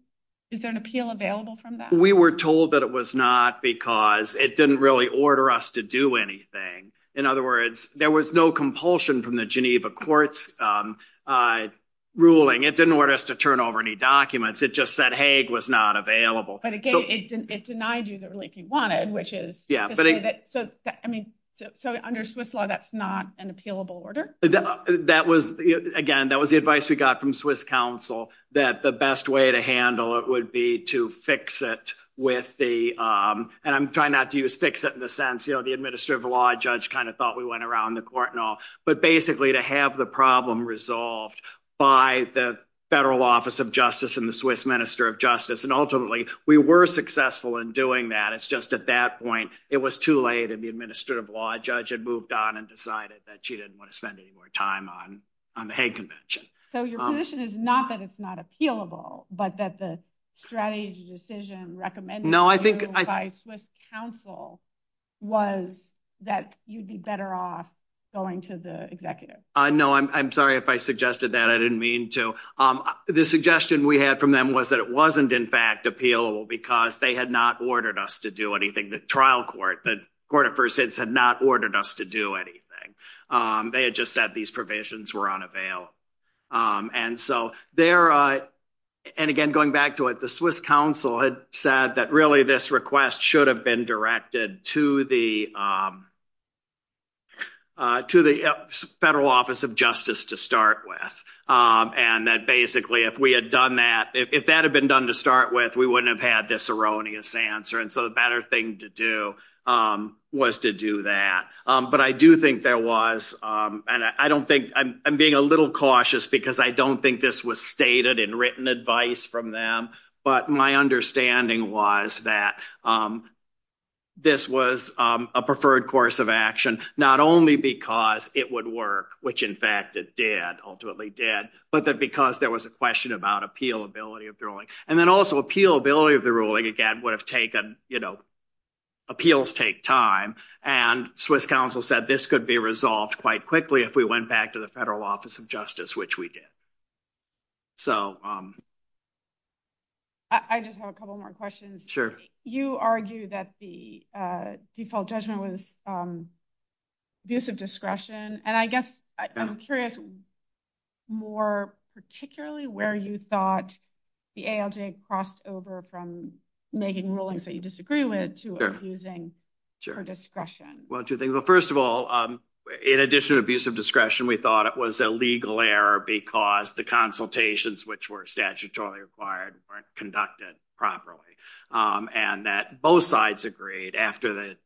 Is there an appeal available from that? We were told that it was not because it didn't really order us to do anything. In other words, there was no compulsion from the Geneva Court's ruling. It didn't order us to turn over any documents. It just said Hague was not available. But again, it denied you the relief you wanted, which is- To say that, I mean, so under Swiss law, that's not an appealable order? That was, again, that was the advice we got from Swiss counsel that the best way to handle it would be to fix it with the, and I'm trying not to use fix it in the sense, you know, the administrative law judge kind of thought we went around the court and all, but basically to have the problem resolved by the Federal Office of Justice and the Swiss Minister of Justice. And ultimately, we were successful in doing that. It's just at that point, it was too late and the administrative law judge had moved on and decided that she didn't want to spend any more time on the Hague Convention. So your position is not that it's not appealable, but that the strategy decision recommended- No, I think- By Swiss counsel was that you'd be better off going to the executive. No, I'm sorry if I suggested that. I didn't mean to. The suggestion we had from them was that it wasn't in fact appealable because they had not ordered us to do anything, the trial court, the court of first instance had not ordered us to do anything. They had just said these provisions were unavailable. And so there, and again, going back to it, the Swiss counsel had said that really this request should have been directed to the Federal Office of Justice to start with. And that basically if we had done that, if that had been done to start with, we wouldn't have had this erroneous answer. And so the better thing to do was to do that. But I do think there was, and I don't think, I'm being a little cautious because I don't think this was stated in written advice from them, but my understanding was that this was a preferred course of action, not only because it would work, which in fact it did, ultimately did, but that because there was a question about appealability of the ruling. And then also appealability of the ruling, again, would have taken, appeals take time and Swiss counsel said this could be resolved quite quickly if we went back to the Federal Office of Justice, which we did. So. I just have a couple more questions. Sure. You argue that the default judgment was abuse of discretion. And I guess I'm curious more particularly where you thought the ALJ crossed over from making rulings that you disagree with to abusing her discretion. Well, two things. Well, first of all, in addition to abuse of discretion, we thought it was a legal error because the consultations, which were statutorily required, weren't conducted properly. And that both sides agreed after the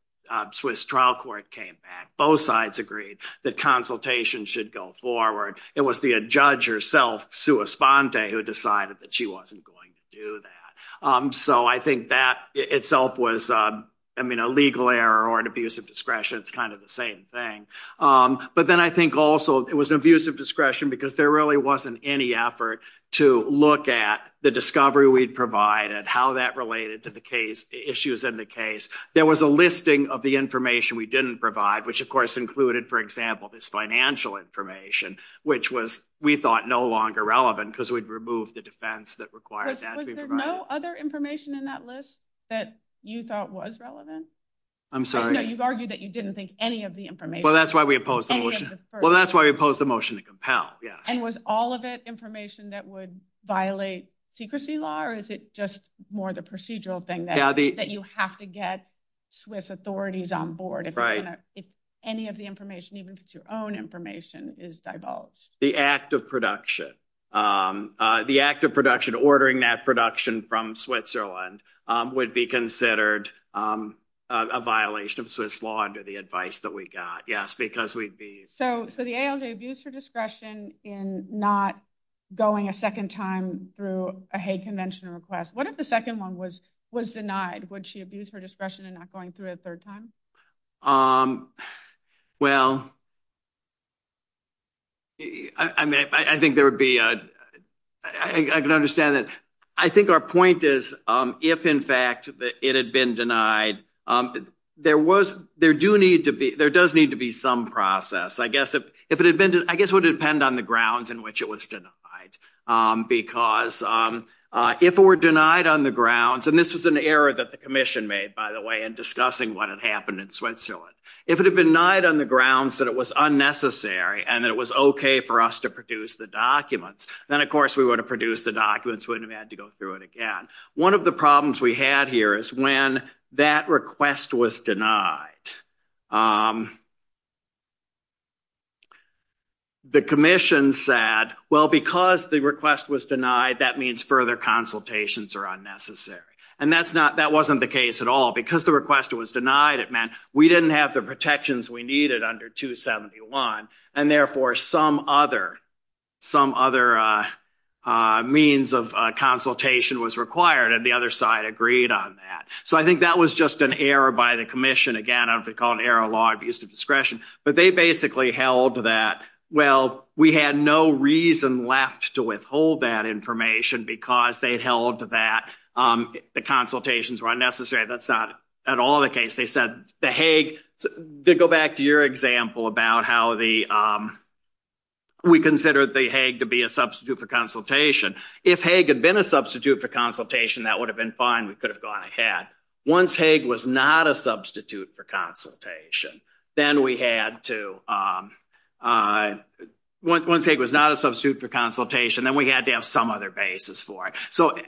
Swiss trial court came back, both sides agreed that consultation should go forward. It was the judge herself, sua sponte, who decided that she wasn't going to do that. So I think that itself was, I mean, a legal error or an abuse of discretion. It's kind of the same thing. But then I think also it was abuse of discretion because there really wasn't any effort to look at the discovery we'd provided, how that related to the case, issues in the case. There was a listing of the information we didn't provide, which of course, included, for example, this financial information, which was, we thought, no longer relevant because we'd removed the defense that required that. Was there no other information in that list that you thought was relevant? I'm sorry. No, you've argued that you didn't think any of the information. Well, that's why we opposed the motion. Well, that's why we opposed the motion to compel. Yeah. And was all of that information that would violate secrecy law or is it just more of the procedural thing that you have to get Swiss authorities on board if any of the information, even if it's your own information, is divulged? The act of production. The act of ordering that production from Switzerland would be considered a violation of Swiss law under the advice that we got. Yes, because we'd be- So the ALJ abused her discretion in not going a second time through a hate convention request. What if the second one was denied? Would she abuse her discretion in not going through it a third time? Well, I can understand that. I think our point is if, in fact, it had been denied, there does need to be some process. I guess it would depend on the grounds in which it was denied because if it were denied on the grounds, and this was an error that the commission made, by the way, in discussing what had happened in Switzerland, if it had been denied on the grounds that it was unnecessary and it was okay for us to produce the documents, then, of course, we would have produced the documents. We wouldn't have had to go through it again. One of the problems we had here is when that request was denied, the commission said, well, because the request was denied, that means further consultations are necessary. That wasn't the case at all. Because the request was denied, it meant we didn't have the protections we needed under 271. Therefore, some other means of consultation was required, and the other side agreed on that. I think that was just an error by the commission. Again, I don't know if they call it error of law, abuse of discretion, but they basically held that, well, we had no reason left to withhold that information because they held that the consultations were unnecessary. That's not at all the case. They said the Hague, to go back to your example about how we considered the Hague to be a substitute for consultation, if Hague had been a substitute for consultation, that would have been fine. We could have gone ahead. Once Hague was not a for consultation, then we had to have some other basis for it.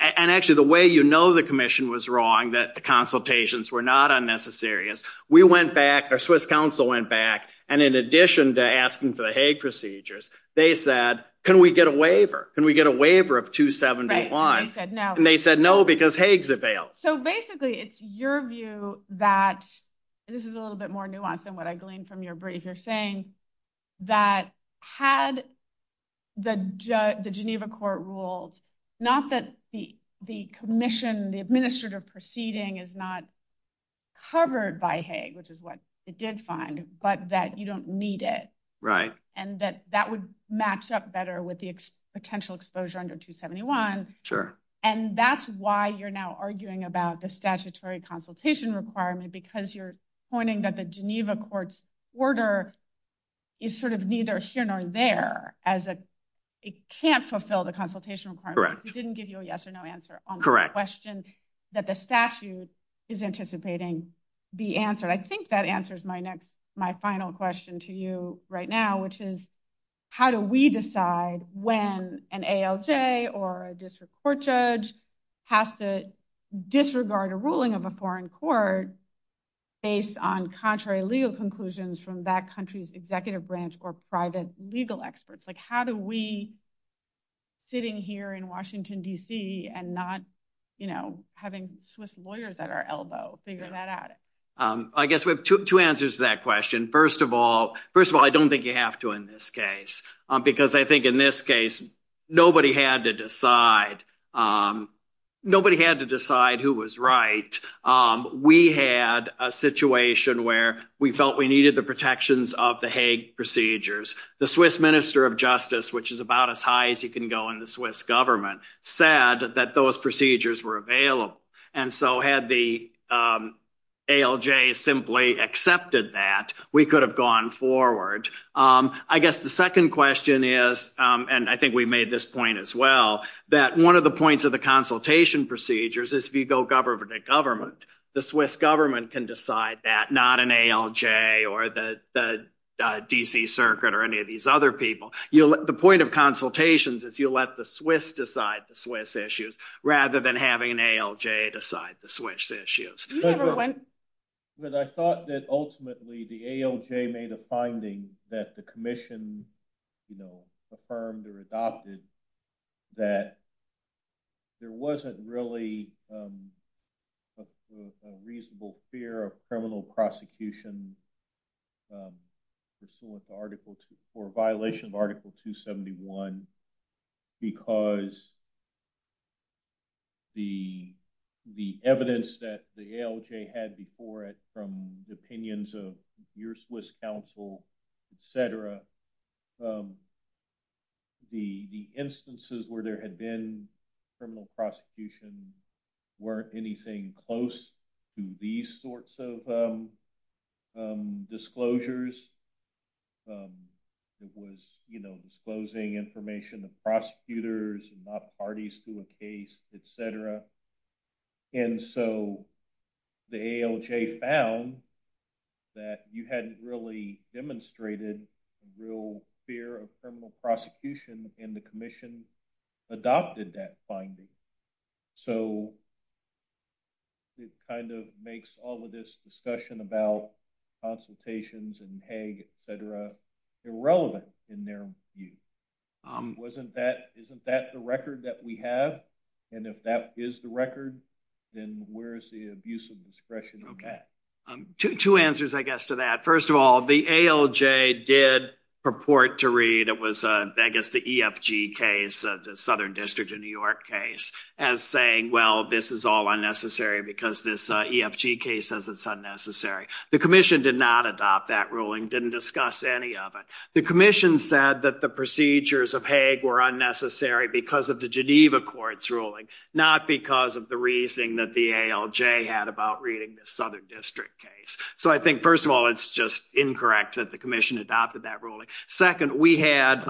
Actually, the way you know the commission was wrong that the consultations were not unnecessary, we went back, the Swiss Council went back, and in addition to asking for the Hague procedures, they said, can we get a waiver of 271? They said no, because Hague's availed. Basically, it's your view that, this is a little bit more nuanced than what I gleaned from your brief, you're saying that had the Geneva Court ruled, not that the commission, the administrative proceeding is not covered by Hague, which is what it did find, but that you don't need it, and that that would match up better with the potential exposure under 271, and that's why you're now arguing about the statutory consultation requirement, because you're pointing that the Geneva Court's order is sort of neither here nor there, as it can't fulfill the consultation requirement. We didn't give you a yes or no answer on the question that the statute is anticipating the answer. I think that answers my next, my final question to you right now, which is, how do we decide when an ALJ or a district court judge has to disregard a ruling of a foreign court based on contrary legal conclusions from that country's executive branch or private legal experts? Like, how do we, sitting here in Washington, D.C., and not, you know, having Swiss lawyers at our elbow figure that out? I guess we have two answers to that question. First of all, first of all, I don't think you have to in this case, because I think in this case, nobody had to decide. Nobody had to decide who was right. We had a situation where we felt we needed the protections of the Hague procedures. The Swiss Minister of Justice, which is about as high as you can go in the Swiss government, said that those procedures were available. And so had the ALJ simply accepted that, we could have gone forward. I guess the second question is, and I think we made this point as well, that one of the points of the consultation procedures is if you go government to government, the Swiss government can decide that, not an ALJ or the D.C. Circuit or any of these other people. The point of consultations is you let the Swiss decide the Swiss issues, rather than having an ALJ decide the Swiss issues. I thought that ultimately the ALJ made a finding that the commission, you know, affirmed or adopted that there wasn't really a reasonable fear of criminal prosecution pursuant to Article 2 or violation of Article 271, because the evidence that the ALJ had before it from the opinions of your Swiss counsel, etc., the instances where there had been criminal prosecution weren't anything close to these sorts of disclosures. It was, you know, disclosing information of prosecutors, not parties to a case, etc. And so the ALJ found that you hadn't really demonstrated real fear of criminal prosecution, and the commission adopted that finding. So it kind of makes all of this discussion about consultations and Hague, etc., irrelevant in their view. Isn't that the record that we have? And if that is the record, then where is the abuse of discretion in that? Two answers, I guess, to that. First of all, the ALJ did purport to read, I guess, the EFG case, the Southern District of New York case, as saying, well, this is all unnecessary because this EFG case says it's unnecessary. The commission did not adopt that ruling, didn't discuss any of it. The commission said that the procedures of Hague were unnecessary because of the Geneva Court's ruling, not because of the reasoning that the ALJ had about reading the Southern District case. So I think, first of all, it's just incorrect that the commission adopted that ruling. Second, we had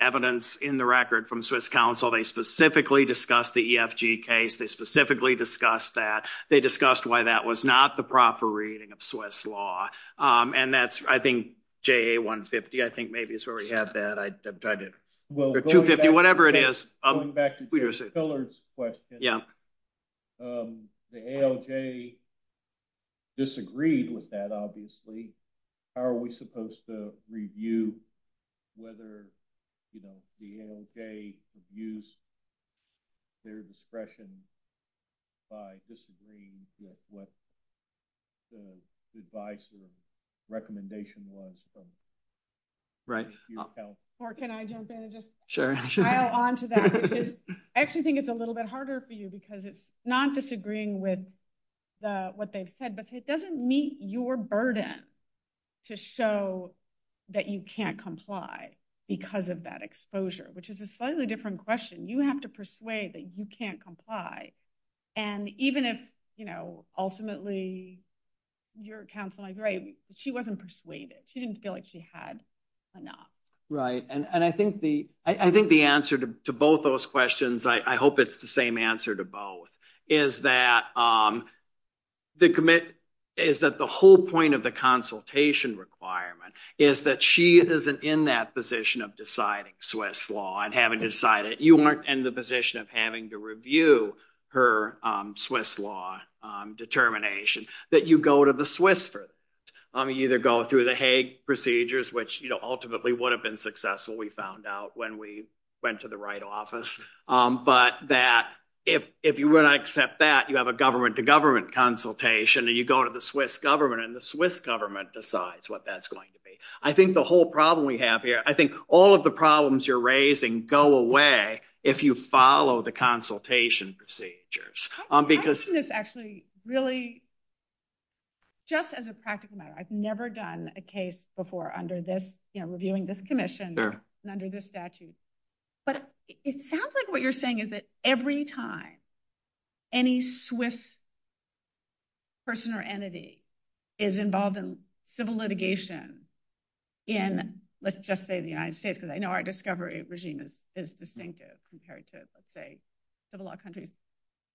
evidence in the record from Swiss counsel. They specifically discussed the EFG case. They specifically discussed that. They discussed why that was not the proper reading of Swiss law. And that's, I think, JA 150. I think maybe it's where we had that. I don't know, 250, whatever it is. Going back to Phil Pillard's question, the ALJ disagreed with that, obviously. How are we supposed to review whether the ALJ used their discretion by disagreeing with what the advice or recommendation was from Swiss counsel? Or can I jump in and just dial onto that? I actually think it's a little bit harder for you because it's not disagreeing with what they've said, but it doesn't meet your burden to show that you can't comply because of that exposure, which is a slightly different question. You have to persuade that you can't comply. And even if, you know, ultimately your counsel is she wasn't persuaded. She didn't feel like she had enough. Right. And I think the answer to both those questions, I hope it's the same answer to both, is that the whole point of the consultation requirement is that she isn't in that position of deciding Swiss law and having decided. You weren't in the position of having to review her Swiss law determination, that you go to the Swiss and either go through the Hague procedures, which ultimately would have been successful, we found out when we went to the right office. But that if you would accept that, you have a government to government consultation and you go to the Swiss government and the Swiss government decides what that's going to be. I think the whole problem we have here, I think all of the problems you're raising go away if you follow the consultation procedures. I see this actually really just as a practical matter. I've never done a case before under this, you know, reviewing this commission and under this statute. But it sounds like what you're saying is that every time any Swiss person or entity is involved in civil litigation in, let's just say the United States, because I know our discovery regime is distinctive compared to, let's say, civil law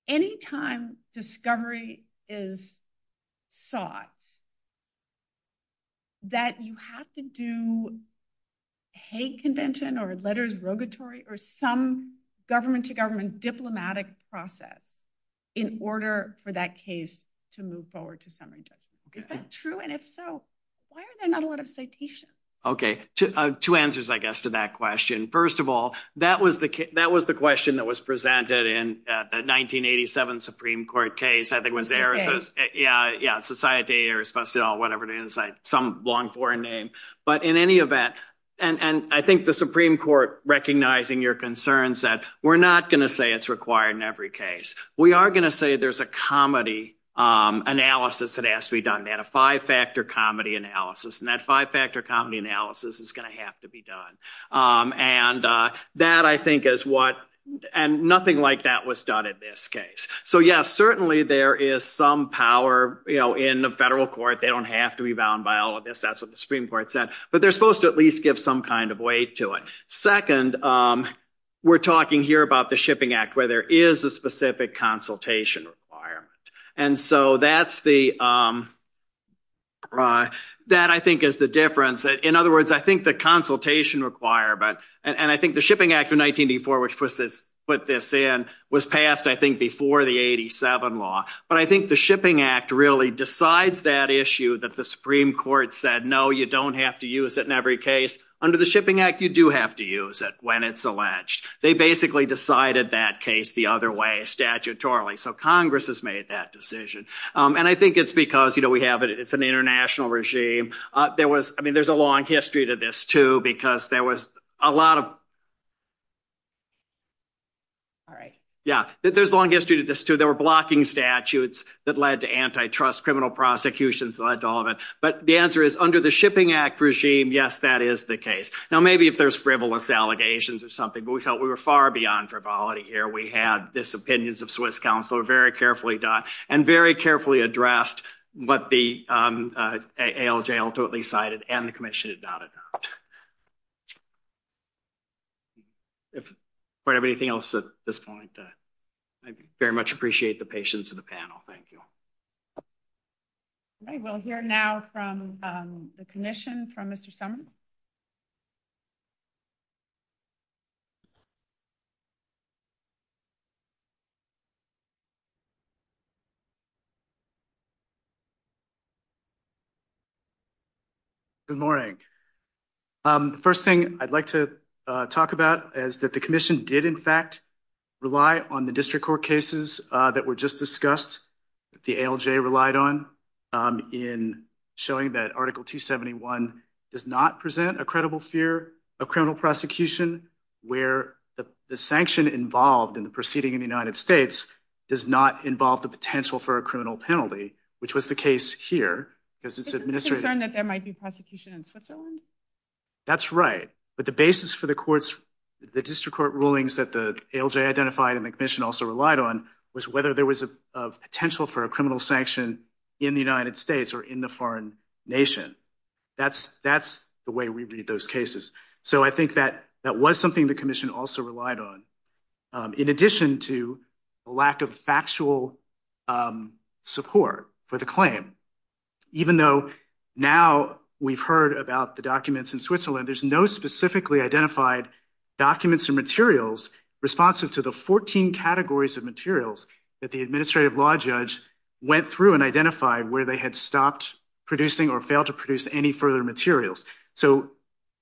any time discovery is sought, that you have to do Hague Convention or letters rogatory or some government to government diplomatic process in order for that case to move forward to some extent. Is that true? And if so, why are there not a lot of citations? Okay. Two answers, I guess, to that question. First of all, that was the question that was presented in the 1987 Supreme Court case. I think it was there. Yeah. Society or whatever it is, some long foreign name. But in any event, and I think the Supreme Court recognizing your concerns that we're not going to say it's required in every case. We are going to say there's a comedy analysis that has to be done, a five-factor comedy analysis. And that five-factor comedy analysis is going to have to be done. And that I think is what, and nothing like that was done in this case. So yes, certainly there is some power in the federal court. They don't have to be bound by all of this. That's what the Supreme Court said, but they're supposed to at least give some kind of weight to it. Second, we're talking here about the Shipping Act where there is a specific consultation requirement. And so that's the, that I think is the difference. In other words, I think the consultation requirement, and I think the Shipping Act of 1984, which put this in, was passed, I think, before the 87 law. But I think the Shipping Act really decides that issue that the Supreme Court said, no, you don't have to use it in every case. Under the Shipping Act, you do have to use it when it's alleged. They basically decided that case the other way statutorily. So Congress has made that decision. And I think it's because we have, it's an international regime. There was, I mean, there's a long history to this too, because there was a lot of... All right. Yeah. There's a long history to this too. There were blocking statutes that led to antitrust, criminal prosecutions led to all of it. But the answer is under the Shipping Act regime, yes, that is the case. Now, maybe if there's frivolous allegations or something, but we felt we were far beyond frivolity here. We had this opinions of Swiss counsel very carefully done and very carefully addressed what the ALJ ultimately cited and the commission about it. If we have anything else at this point, I very much appreciate the patience of the panel. Thank you. Okay. We'll hear now from the commission from Mr. Summers. Good morning. The first thing I'd like to talk about is that the commission did in fact rely on the district court cases that were just discussed that the ALJ relied on in showing that Article 271 does not present a credible fear of criminal prosecution where the sanction involved in proceeding in the United States does not involve the potential for a criminal penalty, which was the case here because it's administered... Is it a concern that there might be prosecution in Switzerland? That's right. But the basis for the courts, the district court rulings that the ALJ identified and the commission also relied on was whether there was a potential for a criminal sanction in the United States or in the foreign nation. That's the way we read those cases. So I think that was something the commission also relied on in addition to a lack of factual support for the claim. Even though now we've heard about the documents in Switzerland, there's no specifically identified documents and materials responsive to the 14 categories of materials that the administrative law judge went through and identified where they had stopped producing or failed to produce any further materials. So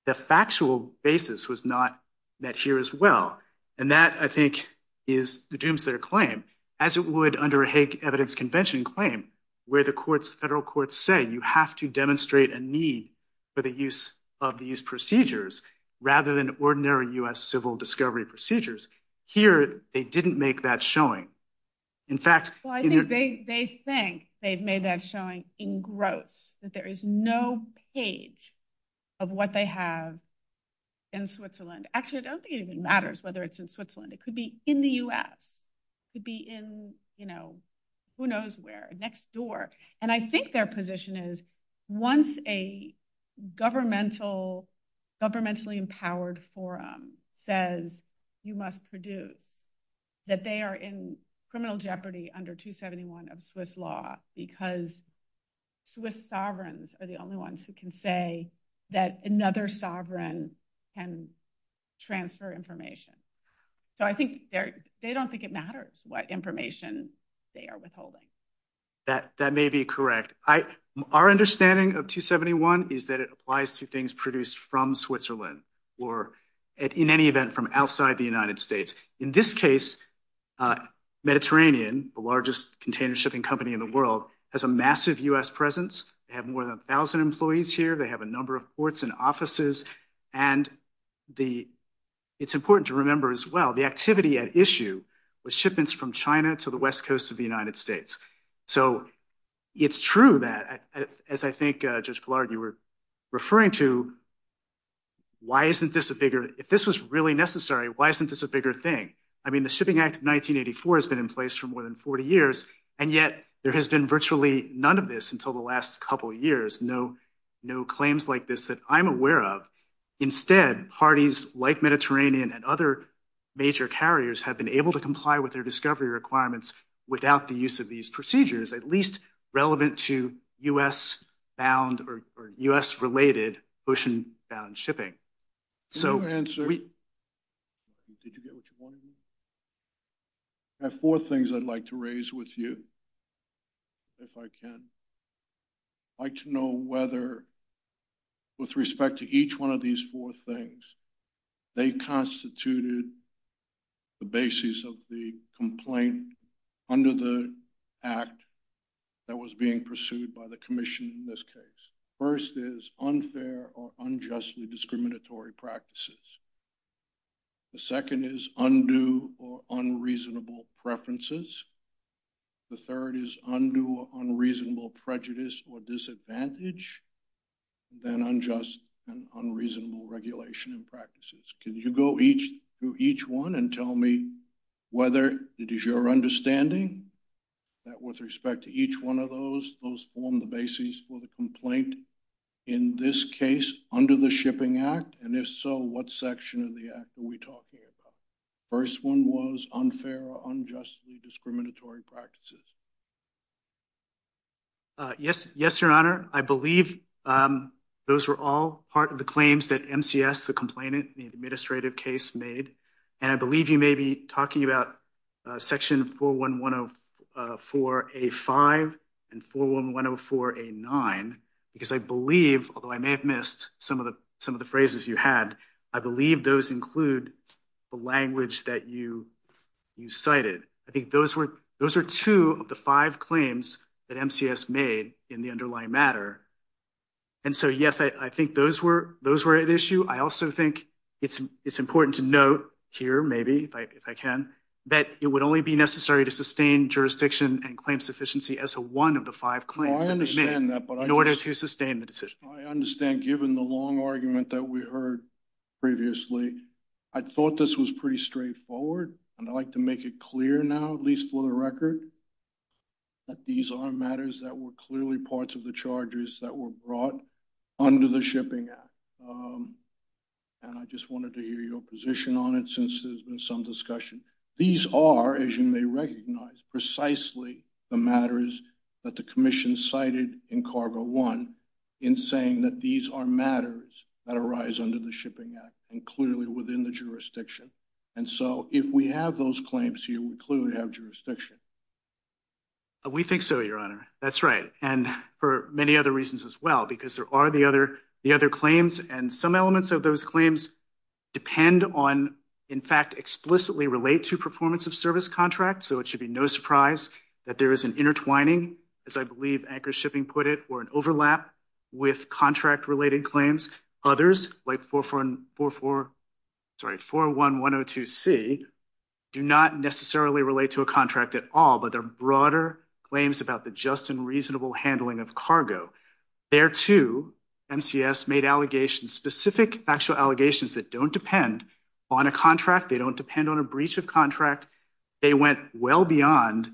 the factual basis was not met here as well. And that, I think, is the doomsday claim as it would under a hate evidence convention claim where the federal courts say you have to demonstrate a need for the use of these procedures rather than ordinary US civil discovery procedures. Here, they didn't make that showing. In fact... Well, I think they think they've made that showing in gross, that there is no page of what they have in Switzerland. Actually, it doesn't even matter whether it's in Switzerland. It could be in the US. It could be in, you know, who knows where, next door. And I think their position is once a governmentally empowered forum says you must produce, that they are in criminal jeopardy under 271 of Swiss law because Swiss sovereigns are the only ones who can say that another sovereign can transfer information. So I think they don't think it matters what information they are withholding. That may be correct. Our understanding of 271 is that it applies to things produced from Switzerland or in any event from outside the United States. In this case, Mediterranean, the largest container shipping company in the world, has a massive US presence. They have more than 1,000 employees here. They have a number of ports and offices. And it's important to remember as well, the activity at issue was shipments from China to the West Coast of the United States. So it's true that, as I think Judge Goulart, you were referring to, why isn't this a bigger... If this was really necessary, why isn't this a bigger thing? I mean, the Shipping Act of 1984 has been in place for more than 40 years, and yet there has been virtually none of this until the last couple of years. No claims like this that I'm aware of. Instead, parties like Mediterranean and other major carriers have been able to comply with their discovery requirements without the use of these procedures, at least relevant to US-bound or US-related ocean-bound shipping. Your answer... Did you get what you wanted to say? I have four things I'd like to raise with you, if I can. I'd like to know whether, with respect to each one of these four things, they constituted the basis of the complaint under the act that was being pursued by the commission in this case. First is unfair or unjustly discriminatory practices. The second is undue or unreasonable preferences. The third is undue or unreasonable prejudice or disadvantage, then unjust and unreasonable regulation and practices. Could you go through each one and tell me whether it is your understanding that, with respect to each one of those, those form the basis for the complaint in this case under the Shipping Act? If so, what section of the act are we talking about? First one was unfair or unjustly discriminatory practices. Yes, Your Honor. I believe those were all part of the claims that MCS, the complainant, the administrative case made. I believe you may be talking about section 4114A5 and 41104A9 because I believe, although I may have missed some of the phrases you had, I believe those include the language that you cited. I think those are two of the five claims that MCS made in the underlying matter. And so, yes, I think those were at issue. I also think it's important to note here, maybe, if I can, that it would only be necessary to sustain jurisdiction and claim in order to sustain the decision. I understand, given the long argument that we heard previously, I thought this was pretty straightforward and I'd like to make it clear now, at least for the record, that these are matters that were clearly parts of the charges that were brought under the Shipping Act. And I just wanted to hear your position on it since there's been some discussion. These are, as you may recognize, precisely the matters that the Commission cited in CARB-01 in saying that these are matters that arise under the Shipping Act and clearly within the jurisdiction. And so, if we have those claims here, we clearly have jurisdiction. We think so, Your Honor. That's right. And for many other reasons as well, because there are the other claims and some elements of those claims depend on, in fact, explicitly relate to performance of service contracts. So, it should be no surprise that there's an intertwining, as I believe Anchor Shipping put it, or an overlap with contract related claims. Others, like 41102C, do not necessarily relate to a contract at all, but they're broader claims about the just and reasonable handling of cargo. There too, MCS made allegations, specific actual allegations that don't depend on a contract. They don't a breach of contract. They went well beyond,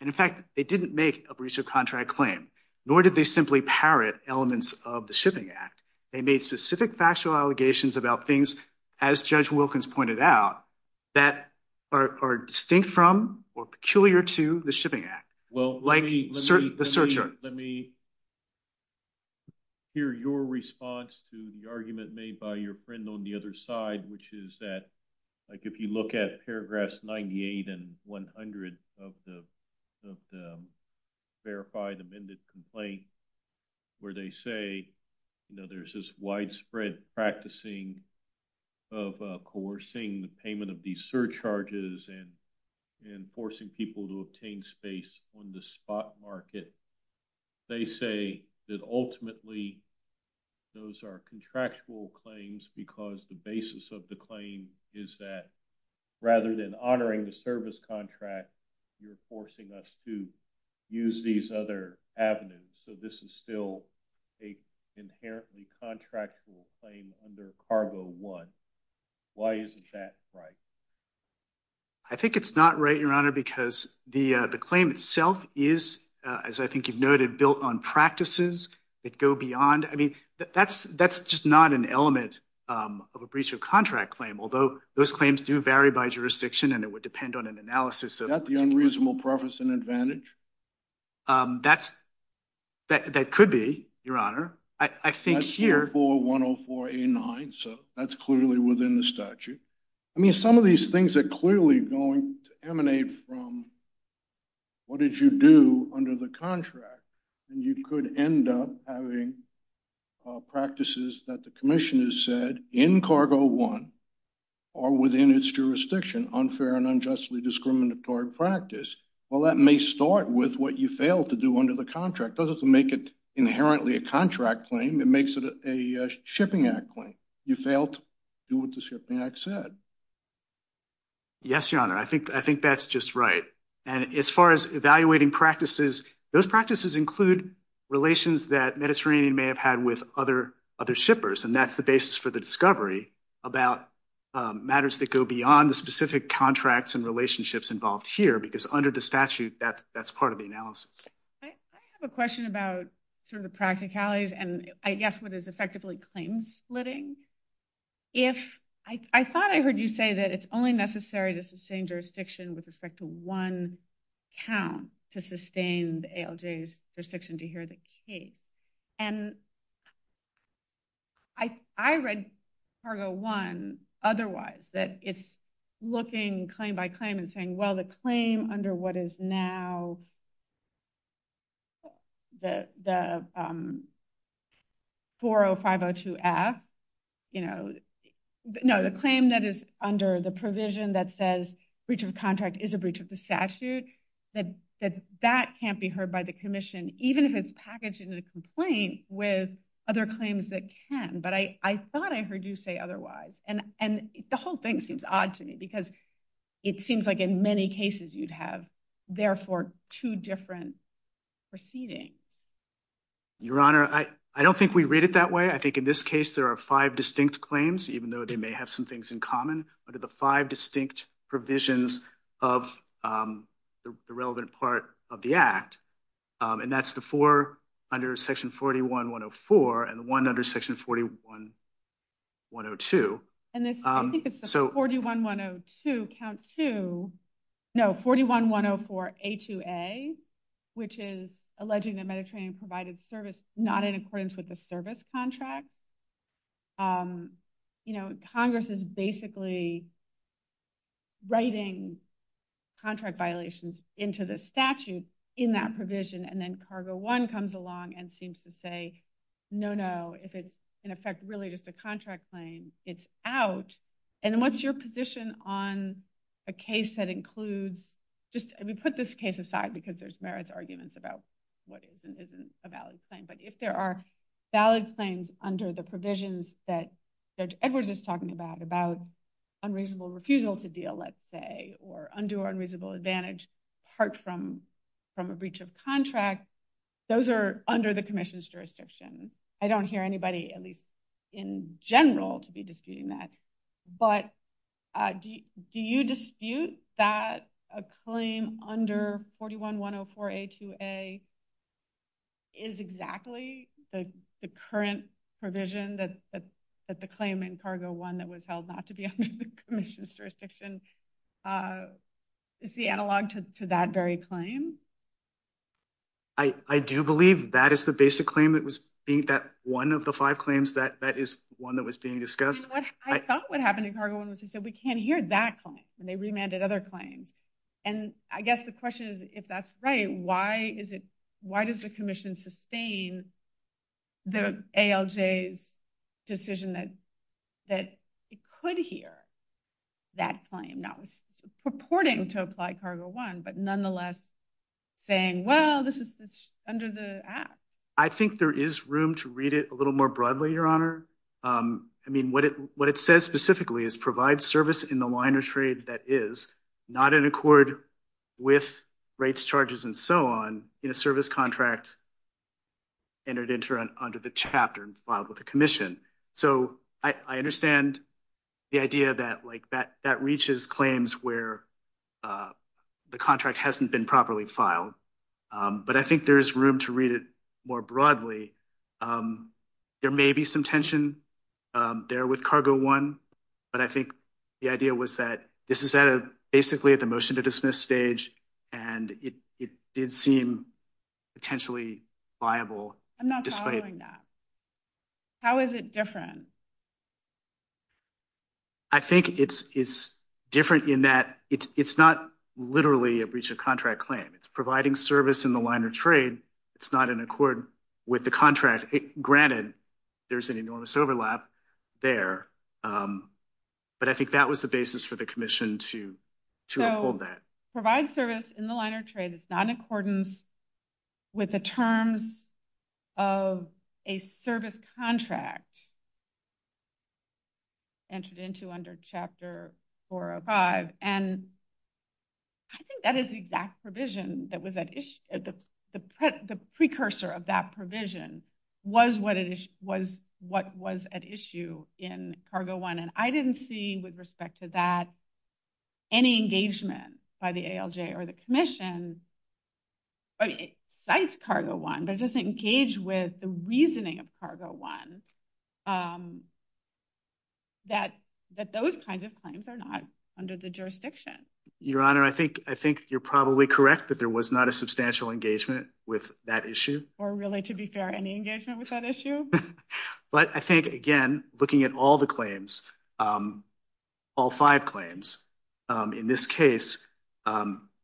and in fact, they didn't make a breach of contract claim, nor did they simply parrot elements of the Shipping Act. They made specific factual allegations about things, as Judge Wilkins pointed out, that are distinct from or peculiar to the Shipping Act. Well, let me hear your response to the argument made by your friend on the other side, which is that, like, if you look at paragraphs 98 and 100 of the verified amended complaint, where they say, you know, there's this widespread practicing of coercing the payment of these surcharges and forcing people to obtain space on the spot market. They say that ultimately, those are contractual claims because the basis of the claim is that, rather than honoring the service contract, you're forcing us to use these other avenues. So, this is still a inherently contractual claim under Cargo 1. Why isn't that right? I think it's not right, Your Honor, because the claim itself is, as I think you've noted, built on practices that go beyond. I mean, that's just not an element of a breach of contract claim, although those claims do vary by jurisdiction, and it would depend on an analysis of- Is that the unreasonable preface and advantage? That could be, Your Honor. I think here- That's 4-104-89. So, that's clearly within the statute. I mean, some of these things are clearly going to emanate from what did you do under the contract, and you could end up having practices that the commission has said in Cargo 1 or within its jurisdiction, unfair and unjustly discriminatory practice. Well, that may start with what you failed to do under the contract. It doesn't make it inherently a contract claim. It makes it a Shipping Act claim. You failed to do what and as far as evaluating practices, those practices include relations that Mediterranean may have had with other shippers, and that's the basis for the discovery about matters that go beyond the specific contracts and relationships involved here, because under the statute, that's part of the analysis. I have a question about sort of the practicalities and, I guess, what is effectively claim splitting. If- I thought I heard you say that it's only necessary to sustain jurisdiction with respect to one count to sustain the ALJ's restriction to adhere the case, and I read Cargo 1 otherwise, that it's looking claim by claim and saying, well, the claim under what is now the 40502F, you know, no, the claim that is under the provision that says, breach of contract is a breach of the statute, that that can't be heard by the commission, even if it's packaged in a complaint with other claims that can, but I thought I heard you say otherwise, and the whole thing seems odd to me, because it seems like in many cases you'd have therefore two different proceedings. Your Honor, I don't think we read it that way. I think in this case, there are five distinct claims, even though they may have some things in common, but the five distinct provisions of the relevant part of the Act, and that's the four under section 41-104 and one under section 41-102. And this, I think it's the 41-102 count 2, no, 41-104A2A, which is alleging the Mediterranean provided service not in accordance with the service contract. You know, Congress is basically writing contract violations into the statute in that provision, and then Cargo 1 comes along and seems to say, no, no, if it's in effect really just a contract claim, it's out, and what's your position on a case that includes, just put this case aside, because there's merits arguments about what is and isn't a valid claim, but if there are valid claims under the provisions that Judge Edwards is talking about, about unreasonable refusal to deal, let's say, or undue or unreasonable advantage, apart from a breach of contract, those are under the commission's jurisdiction. I don't hear anybody, at least in general, to be disputing that, but do you dispute that a claim under 41-104A2A is exactly the current provision that the claim in Cargo 1 that was held not to be the commission's jurisdiction is the analog to that very claim? I do believe that is the basic claim that was being, that one of the five claims, that is one that was being discussed. I felt what happened in Cargo 1 was they said we can't hear that claim, and they remanded other claims, and I guess the question is, if that's right, why is it, Judge Edwards' decision that it could hear that claim, not purporting to apply Cargo 1, but nonetheless saying, well, this is under the Act? I think there is room to read it a little more broadly, Your Honor. I mean, what it says specifically is provide service in the line of trade that is not in accord with rates, charges, and so on in a service contract entered into under the chapter and filed with the commission. So I understand the idea that, like, that reaches claims where the contract hasn't been properly filed, but I think there is room to read it more broadly. There may be some tension there with Cargo 1, but I think the idea was that this is basically at the motion to dismiss stage, and it did seem potentially viable. I'm not following that. How is it different? I think it's different in that it's not literally a breach of contract claim. It's providing service in the line of trade. It's not in accord with the contract. Granted, there's an enormous Provide service in the line of trade is not in accordance with the terms of a service contract entered into under Chapter 405, and I think that is the exact provision that was at issue. The precursor of that provision was what was at issue in Cargo 1, and I didn't see, with respect to that, any engagement by the ALJ or the commission besides Cargo 1 that doesn't engage with the reasoning of Cargo 1 that those kinds of claims are not under the jurisdiction. Your Honor, I think you're probably correct that there was not a substantial engagement with that issue. Or really, to be fair, any engagement with that issue? I think, again, looking at all the claims, all five claims, in this case,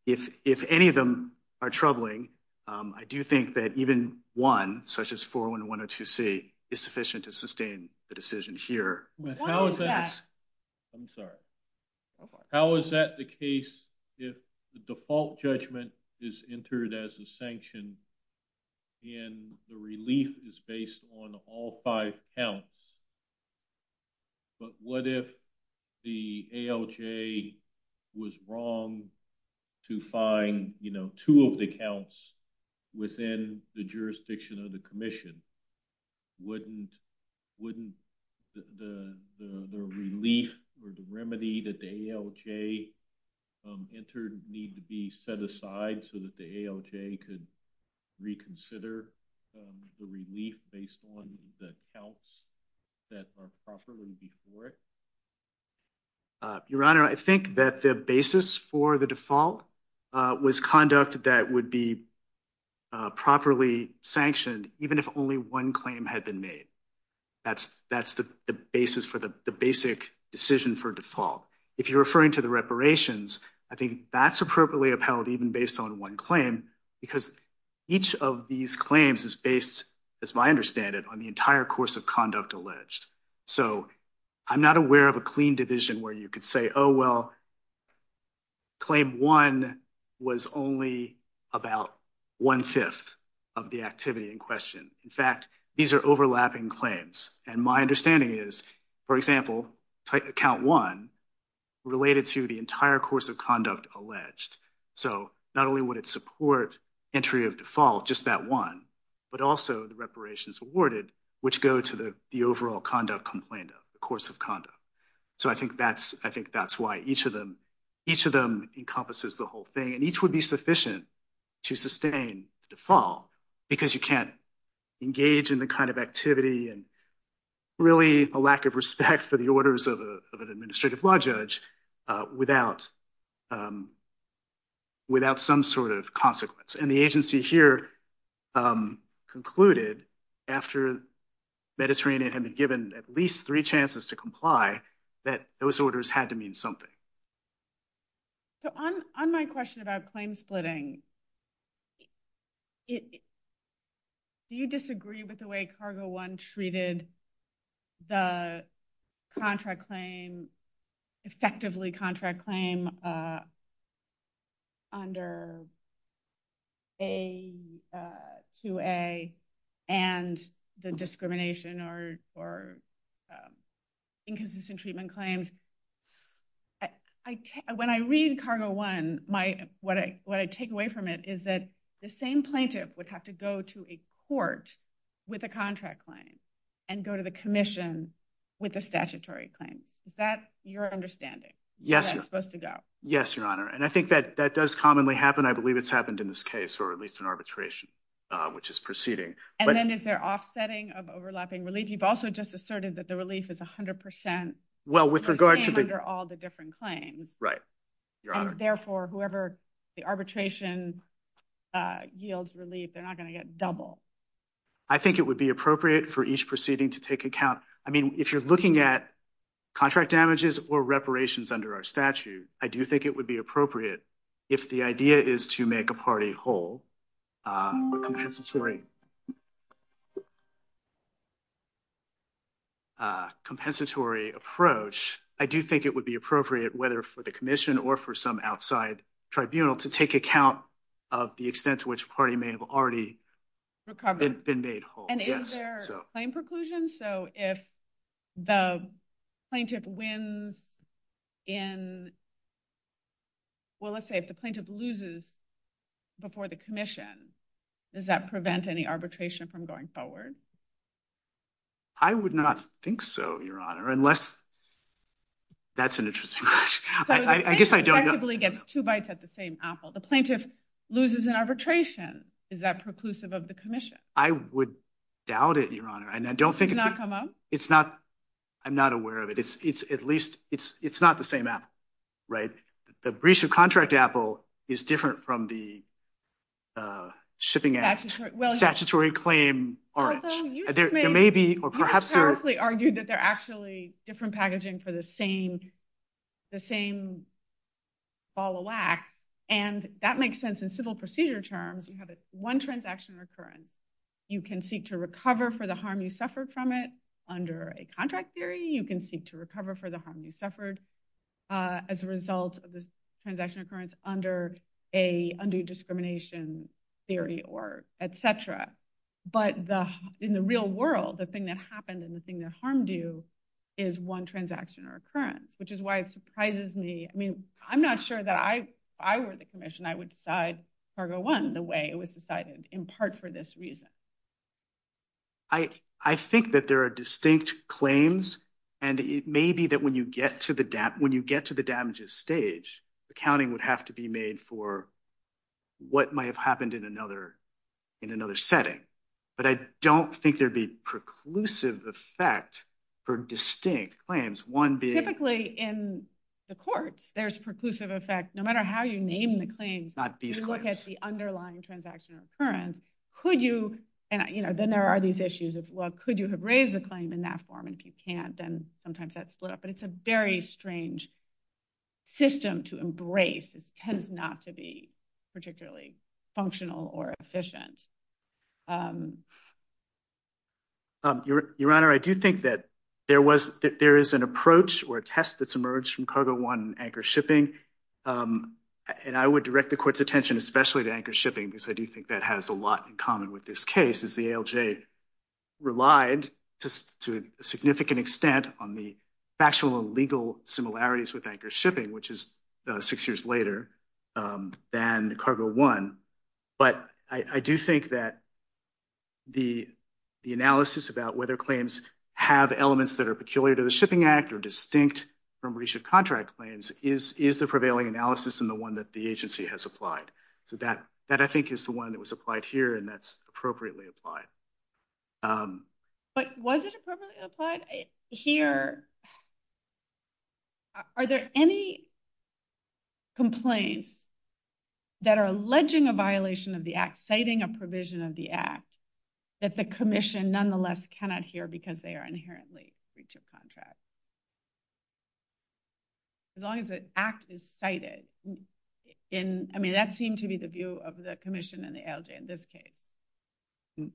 if any of them are troubling, I do think that even one, such as 401 and 102C, is sufficient to sustain the decision here. How is that the case if the default judgment is entered as a sanction and the relief is based on all five counts? But what if the ALJ was wrong to find, you know, two of the counts within the jurisdiction of the commission? Wouldn't the relief or the remedy that the ALJ entered need to be set aside so that the ALJ could reconsider the relief based on the counts that are properly before it? Your Honor, I think that the basis for the default was conduct that would be properly sanctioned even if only one claim had been made. That's the basis for the basic decision for default. If you're referring to the reparations, I think that's appropriately upheld even based on one claim because each of these claims is based, as my understanding, on the entire course of conduct alleged. So I'm not aware of a clean division where you could say, oh, well, claim one was only about one-fifth of the activity in question. In fact, these are overlapping claims. And my understanding is, for example, count one related to the entire course of conduct alleged. So not only would it support entry of default, just that one, but also the reparations awarded, which go to the overall conduct complaint, the course of conduct. So I think that's why each of them encompasses the whole thing. And each would be sufficient to sustain default because you can't engage in the kind of activity and really a lack of respect for the orders of an administrative law judge without some sort of consequence. And the agency here concluded after Mediterranean had been given at least three chances to comply that those orders had to mean something. So on my question about claim splitting, do you disagree with the way cargo one treated the contract claim, effectively contract claim under AQA and the discrimination or inconsistent treatment claims? When I read cargo one, what I take away from it is that the same plaintiff would have to go to a court with a contract claim and go to the commission with a statutory claim. Is that your understanding? Yes, Your Honor. And I think that that does commonly happen. I believe it's happened in this case or at least in arbitration, which is proceeding. And then is there offsetting of overlapping relief? You've also just asserted that the relief is 100% under all the different claims. Right. Therefore, whoever the arbitration yields relief, they're not going to get double. I think it would be appropriate for each proceeding to take account. I mean, if you're at contract damages or reparations under our statute, I do think it would be appropriate if the idea is to make a party whole, a compensatory approach. I do think it would be appropriate, whether for the commission or for some outside tribunal, to take account of the extent to which a party may have already been made whole. And is there a claim preclusion? So if the plaintiff wins in... Well, let's say if the plaintiff loses before the commission, does that prevent any arbitration from going forward? I would not think so, Your Honor, unless... That's an interesting question. I guess I don't know. So the plaintiff effectively gets two bites at the same apple. The plaintiff loses in arbitration. Is that preclusive of the commission? I would doubt it, Your Honor. And I don't think... It's not come up? It's not. I'm not aware of it. It's at least... It's not the same apple, right? The breach of contract apple is different from the shipping act, statutory claim orange. There may be, or perhaps there... You correctly argued that they're actually different packaging for the same follow act. And that makes sense in civil procedure terms, one transaction recurrence. You can seek to recover for the harm you suffered from it under a contract theory. You can seek to recover for the harm you suffered as a result of the transaction occurrence under a discrimination theory or et cetera. But in the real world, the thing that happened and the thing that harmed you is one transaction recurrence, which is why it surprises me. I mean, I'm not sure that if I were the commission, I would decide cargo one the way it was decided in part for this reason. I think that there are distinct claims and it may be that when you get to the damages stage, accounting would have to be made for what might have happened in another setting. But I don't think there'd be preclusive effect for distinct claims. One being... In the courts, there's a preclusive effect. No matter how you name the claim, you look at the underlying transaction recurrence. Then there are these issues of, well, could you have raised the claim in that form? And if you can't, then sometimes that's split up. But it's a very strange system to embrace. It tends not to be particularly functional or efficient. Your Honor, I do think that there is an approach or a test that's emerged from cargo one anchor shipping. And I would direct the court's attention, especially to anchor shipping, because I do think that has a lot in common with this case is the ALJ relied to a significant extent on the factual and legal similarities with anchor shipping, which is six years later than cargo one. But I do think that the analysis about whether claims have elements that are peculiar to the Shipping Act or distinct from recent contract claims is the prevailing analysis and the one that the agency has applied. So that, I think, is the one that was applied here, and that's appropriately applied. But was it appropriately applied here? Are there any complaints that are alleging a violation of the act, citing a provision of the act, that the commission nonetheless cannot hear because they are inherently breach of contract? As long as the act is cited. I mean, that seemed to be the view of the commission and the ALJ in this case.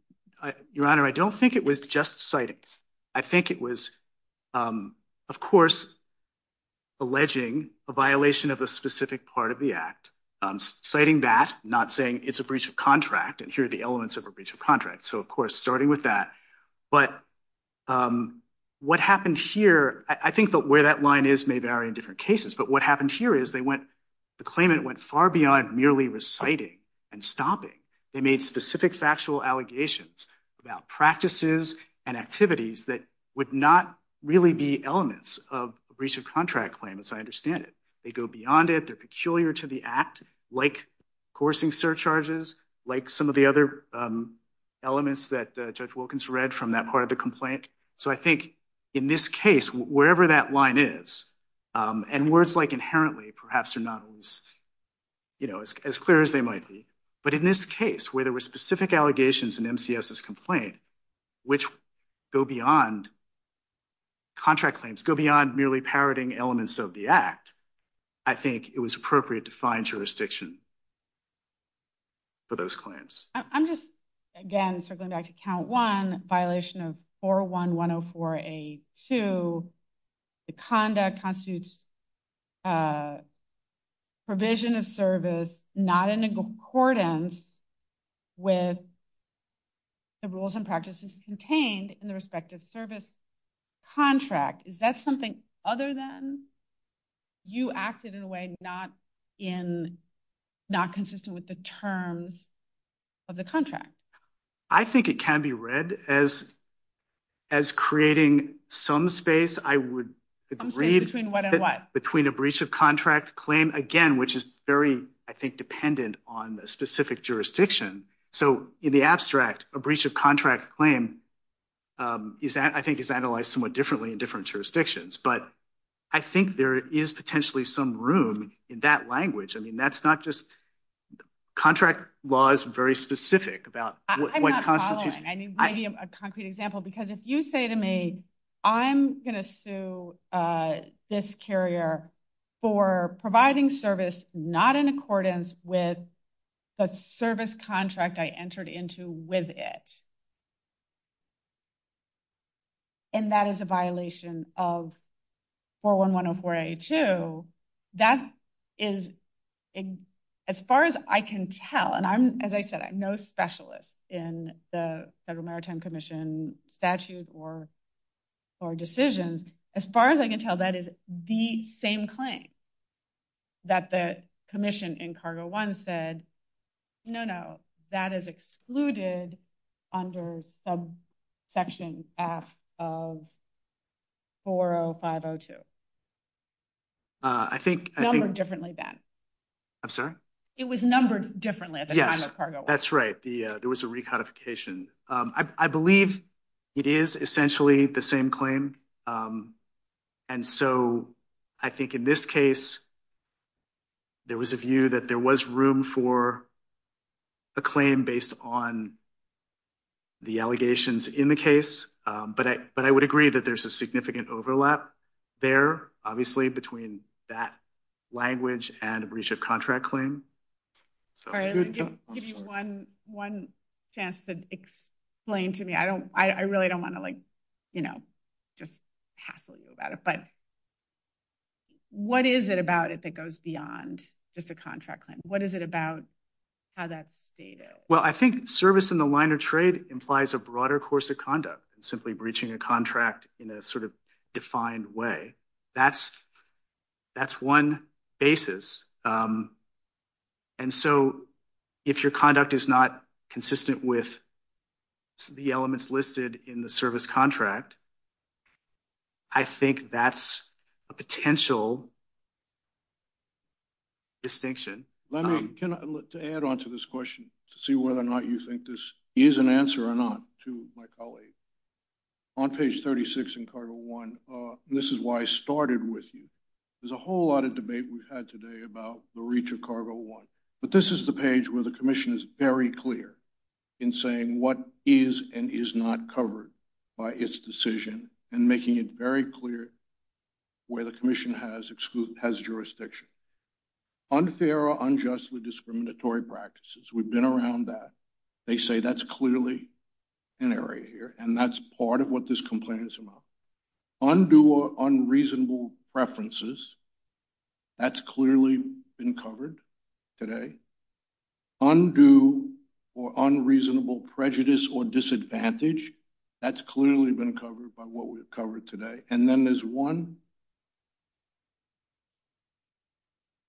Your Honor, I don't think it was just cited. I think it was of course, alleging a violation of a specific part of the act, citing that, not saying it's a breach of contract and here are the elements of a breach of contract. So of course, starting with that. But what happened here, I think that where that line is may vary in different cases, but what happened here is the claimant went far beyond merely reciting and stopping. They made specific factual allegations about practices and activities that would not really be elements of breach of contract claims. I understand it. They go beyond it. They're peculiar to the act, like coursing surcharges, like some of the other elements that Judge Wilkins read from that part of the complaint. So I think in this case, wherever that line is, and words like inherently perhaps are not as clear as they might be, but in this case where there were specific allegations in MCS's complaint, which go beyond contract claims, go beyond merely parroting elements of the act, I think it was appropriate to find jurisdiction for those claims. I'm just, again, circling back to count one, violation of 41104A2, the conduct constitutes provision of service not in accordance with the rules and practices contained in the respective service contract. Is that something other than you acted in a way not consistent with the terms of the contract? I think it can be read as creating some space, I would read between a breach of contract claim, again, which is very, I think, dependent on the specific jurisdiction. So in the abstract, a breach of contract claim is, I think, is analyzed somewhat differently in different jurisdictions. But I think there is potentially some room in that language. I mean, that's not just contract laws very specific about what constitutes- I'm not following. I mean, a concrete example, because if you say to me, I'm going to sue this carrier for providing service not in accordance with the service contract I entered into with it, and that is a violation of 41104A2, that is, as far as I can tell, and I'm, as I said, no specialist in the Federal Maritime Commission statutes or decisions, as far as I can tell, that is the same claim that the Commission in Cargo 1 said, no, no, that is excluded under subsection F of 40502. Numbered differently then. I'm sorry? It was numbered differently. Yes, that's right. There was a recodification. I believe it is essentially the same claim. And so I think in this case, there was a view that there was room for a claim based on the allegations in the case. But I would agree that there's a significant overlap there, obviously, between that language and a breach of contract claim. Sorry, give me one chance to explain to me. I don't, I really don't want to like, you know, just hassle you about it. But what is it about it that goes beyond just a contract claim? What is it about how that's stated? Well, I think service in the line of trade implies a broader course of conduct, simply breaching a contract in a sort of defined way. That's one basis. And so if your conduct is not consistent with the elements listed in the service contract, I think that's a potential distinction. Let me add on to this question to see whether or not you think this is an answer or not to my colleagues. On page 36 in cargo one, this is why I started with you. There's a whole lot of debate we've had today about the reach of cargo one. But this is the page where the commission is very clear in saying what is and is not covered by its decision and making it very clear where the commission has jurisdiction. Unfair or unjustly discriminatory practices. We've been around that. They say that's clearly an area here. And that's part of what this complaint is about. Undue or unreasonable preferences. That's clearly been covered today. Undue or unreasonable prejudice or disadvantage. That's clearly been covered by what we've covered today. And then there's one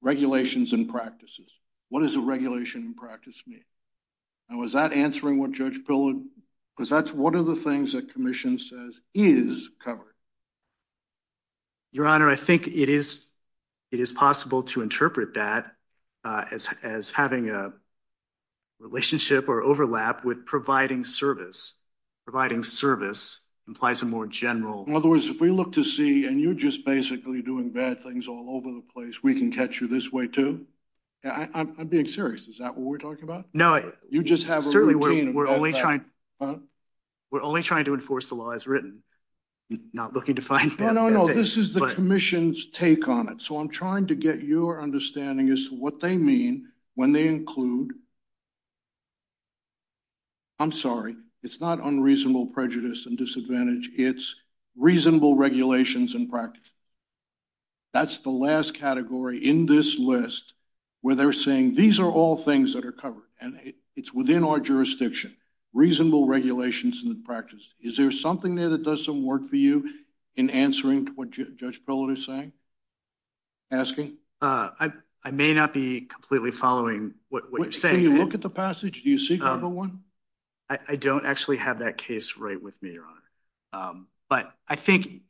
regulations and practices. What does a regulation and practice mean? Now, is that answering what Judge Pillard? Because that's one of the things that commission says is covered. Your Honor, I think it is possible to interpret that as having a relationship or overlap with providing service. Providing service implies a more general... In other words, if we look to see and you're just basically doing bad things all over the place, we can catch you this way too. I'm being serious. Is that what we're talking about? No. You just have a routine. We're only trying to enforce the law as written. Not looking to find... No, no, no. This is the commission's take on it. So I'm trying to get your understanding as to what they mean when they include... I'm sorry. It's not unreasonable prejudice and disadvantage. It's reasonable regulations and practice. That's the last category in this list where they're saying, these are all things that are covered. And it's within our jurisdiction. Reasonable regulations and practices. Is there something there that doesn't work for you in answering what Judge Pillard is saying? Asking? I may not be completely following what you're saying. Can you look at the passage? Do you see Cargo 1? I don't actually have that case right with me, Your Honor. But I think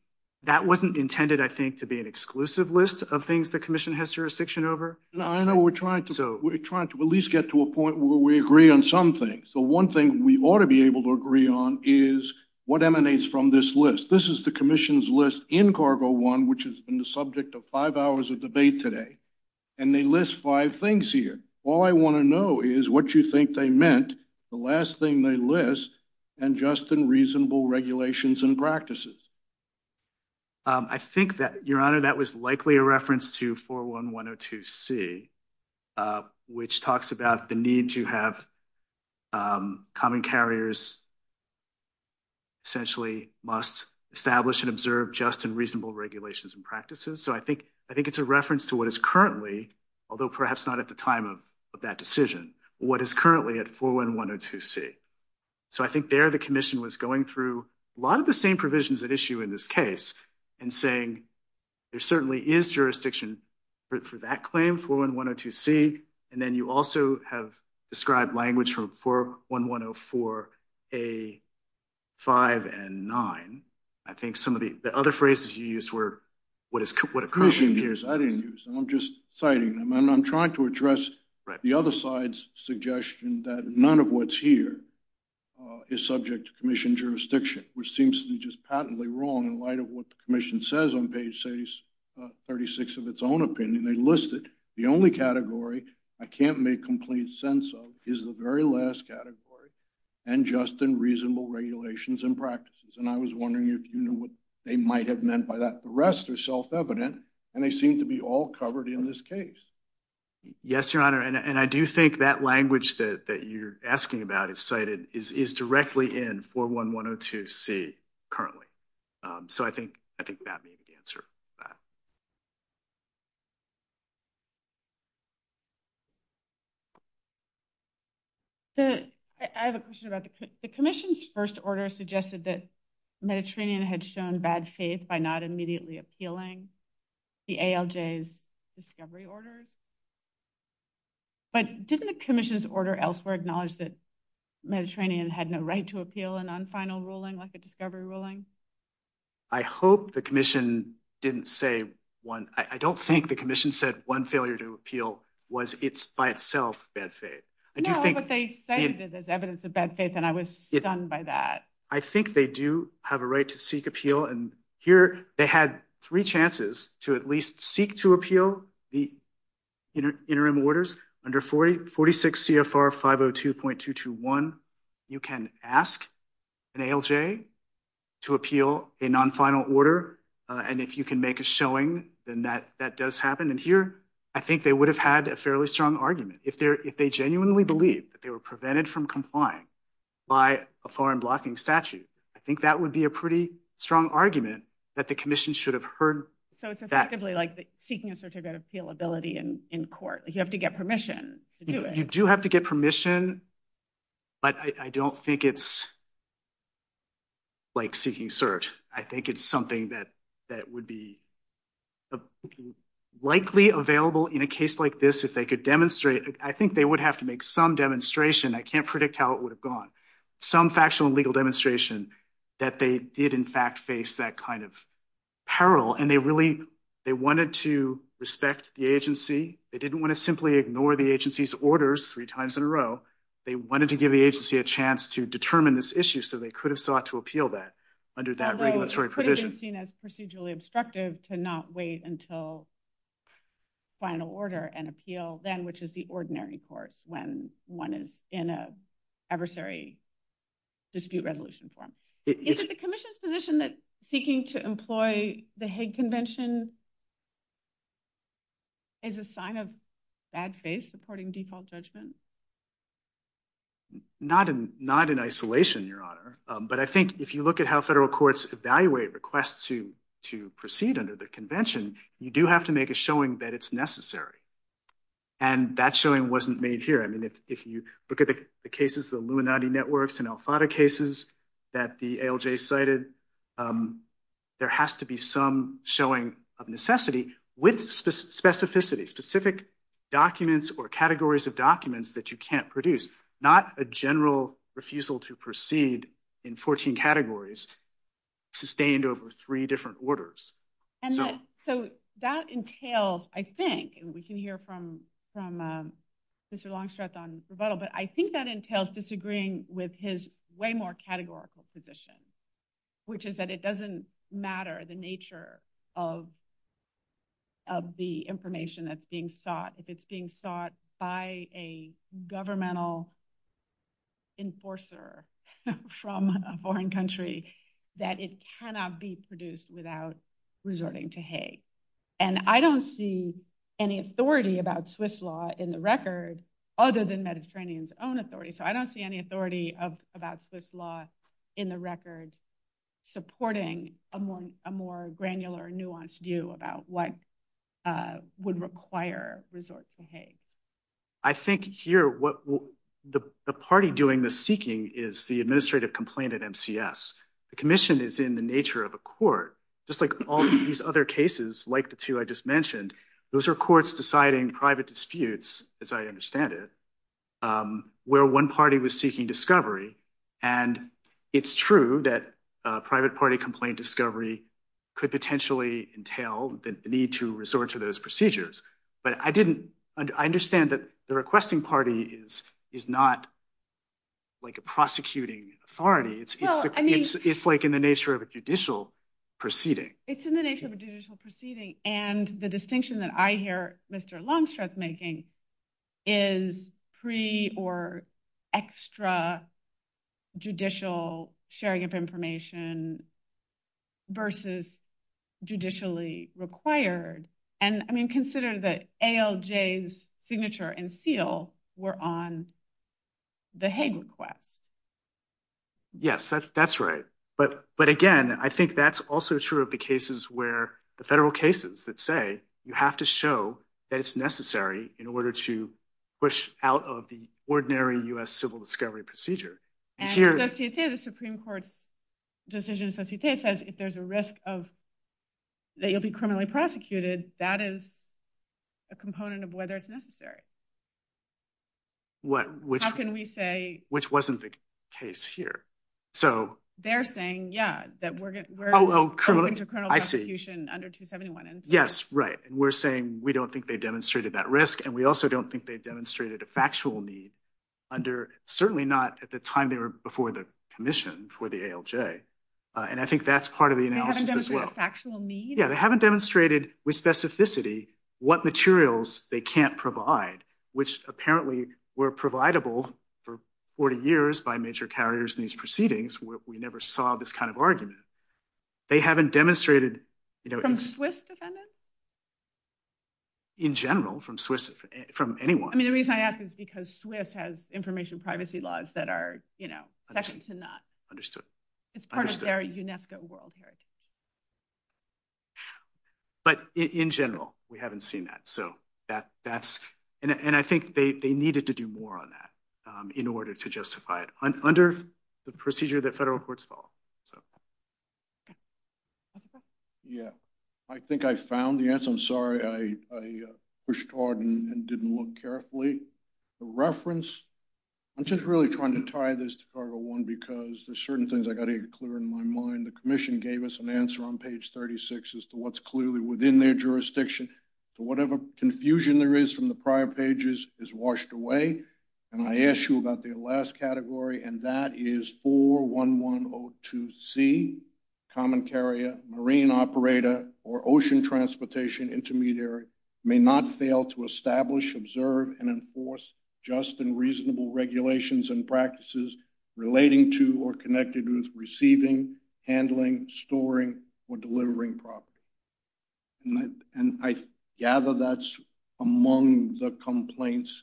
that wasn't intended, I think, to be an exclusive list of things the commission has jurisdiction over. I know we're trying to at least get to a point where we agree on some things. So one thing we ought to be able to agree on is what emanates from this list. This is the commission's list in Cargo 1, which has been the subject of five hours of debate today. And they list five things here. All I want to know is what you think they meant, the last thing they list, and just in reasonable regulations and practices. I think that, Your Honor, that was likely a reference to 41102C, which talks about the need to have common carriers essentially must establish and just in reasonable regulations and practices. So I think it's a reference to what is currently, although perhaps not at the time of that decision, what is currently at 41102C. So I think there the commission was going through a lot of the same provisions at issue in this case and saying there certainly is jurisdiction for that claim, 41102C. And then you also have language from 41104A5 and 9. I think some of the other phrases you used were what a person hears. I didn't use them. I'm just citing them. I'm trying to address the other side's suggestion that none of what's here is subject to commission jurisdiction, which seems to be just patently wrong in light of what the commission says on page 36 of its own opinion. They list it. The only category I can't make complete sense of is the very last category and just in reasonable regulations and practices. And I was wondering if you knew what they might have meant by that. The rest are self-evident and they seem to be all covered in this case. Yes, Your Honor. And I do think that language that you're asking about is cited is directly in 41102C currently. So I think that may be the answer to that. I have a question about the commission's first order suggested that Mediterranean had shown bad faith by not immediately appealing the ALJ's discovery orders. But didn't the commission's order elsewhere acknowledge that Mediterranean had no right to appeal an unfinal ruling like a discovery ruling? I hope the commission didn't say one. I don't think the commission said one failure to appeal was it's by itself bad faith. No, what they said is evidence of bad faith and I was stunned by that. I think they do have a right to seek appeal. And here they had three chances to at least seek to appeal the interim orders under 46 CFR 502.221. You can ask an ALJ to appeal a non-final order. And if you can make a showing, then that does happen. And here, I think they would have had a fairly strong argument. If they genuinely believe that they were prevented from complying by a foreign blocking statute, I think that would be a pretty strong argument that the commission should have heard that. So it's effectively like seeking a certificate of appealability in court. You have to get permission to do it. You do have to get permission, but I don't think it's like seeking cert. I think it's something that would be likely available in a case like this if they could demonstrate. I think they would have to make some demonstration. I can't predict how it would have gone. Some factional legal demonstration that they did in fact face that kind of peril. And they wanted to respect the agency. They didn't want to simply ignore the agency's orders three times in a row. They wanted to give the agency a chance to determine this issue. So they could have sought to appeal that under that regulatory provision. It could have been seen as procedurally obstructive to not wait until final order and appeal then, which is the ordinary court when one is in an adversary dispute resolution form. Is it the commission's position that seeking to employ the Hague Convention is a sign of bad faith supporting default judgment? Not in isolation, Your Honor. But I think if you look at how federal courts evaluate requests to proceed under the convention, you do have to make a showing that it's necessary. And that showing wasn't made here. I mean, if you look at the cases, the Illuminati networks and Al-Fada cases that the ALJ cited, there has to be some showing of necessity with specificity, specific documents or categories of documents that you can't produce. Not a general refusal to proceed in 14 categories sustained over three different orders. And so that entails, I think, and we can hear from Mr. Longstrap on this rebuttal, but I think that entails disagreeing with his way more categorical position, which is that it doesn't matter the nature of the information that's being sought, if it's being sought by a governmental enforcer from a foreign country, that it cannot be produced without resorting to hate. And I don't see any authority about Swiss law in the record, other than Mediterranean's own authority. So I don't see any authority about Swiss law in the record supporting a more granular, nuanced view about what would require resort to hate. I think here, what the party doing the seeking is the administrative complaint at MCS. The commission is in the nature of a court, just like all these other cases, like the two I just mentioned, those are courts deciding private disputes, as I understand it, where one party was seeking discovery. And it's true that a private party complaint discovery could potentially entail the need to resort to those procedures. But I understand that the requesting party is not like a prosecuting authority. It's like in the nature of a judicial proceeding. It's in the nature of a judicial proceeding. And the distinction that I hear Mr. Longstreet making is pre or extra judicial sharing of information versus judicially required. And I mean, consider that ALJ's signature and seal were on the hate request. Yes, that's right. But again, I think that's also true of the cases where the federal cases that say you have to show that it's necessary in order to push out of the ordinary U.S. civil discovery procedure. And the Supreme Court's decision says, if there's a risk that you'll be criminally prosecuted, that is a component of whether it's necessary. How can we say- Which wasn't the case here. They're saying, yeah, that we're going to criminal prosecution under 271. Yes, right. We're saying we don't think they demonstrated that risk. And we also don't think they demonstrated a factual need under, certainly not at the time they were before the commission for the ALJ. And I think that's part of the analysis as well. They haven't demonstrated with specificity what materials they can't provide, which apparently were providable for 40 years by major carriers in these proceedings where we never saw this kind of argument. They haven't demonstrated- From SWIFT defendants? In general, from SWIFT, from anyone. I mean, the reason I ask is because SWIFT has information privacy laws that are second to none. Understood. It's part of their UNESCO world heritage. But in general, we haven't seen that. And I think they needed to do more on that. In order to justify it under the procedure that federal courts follow. Yeah. I think I found the answer. I'm sorry. I pushed hard and didn't look carefully. The reference, I'm just really trying to tie this to cargo one, because there's certain things I got to get clear in my mind. The commission gave us an answer on page 36 as to what's clearly within their jurisdiction. So whatever confusion there is from the prior pages is washed away. And I asked you about the last category, and that is 41102C, common carrier, marine operator, or ocean transportation intermediary may not fail to establish, observe, and enforce just and reasonable regulations and practices relating to or connected with receiving, handling, storing, or delivering property. And I gather that's among the complaints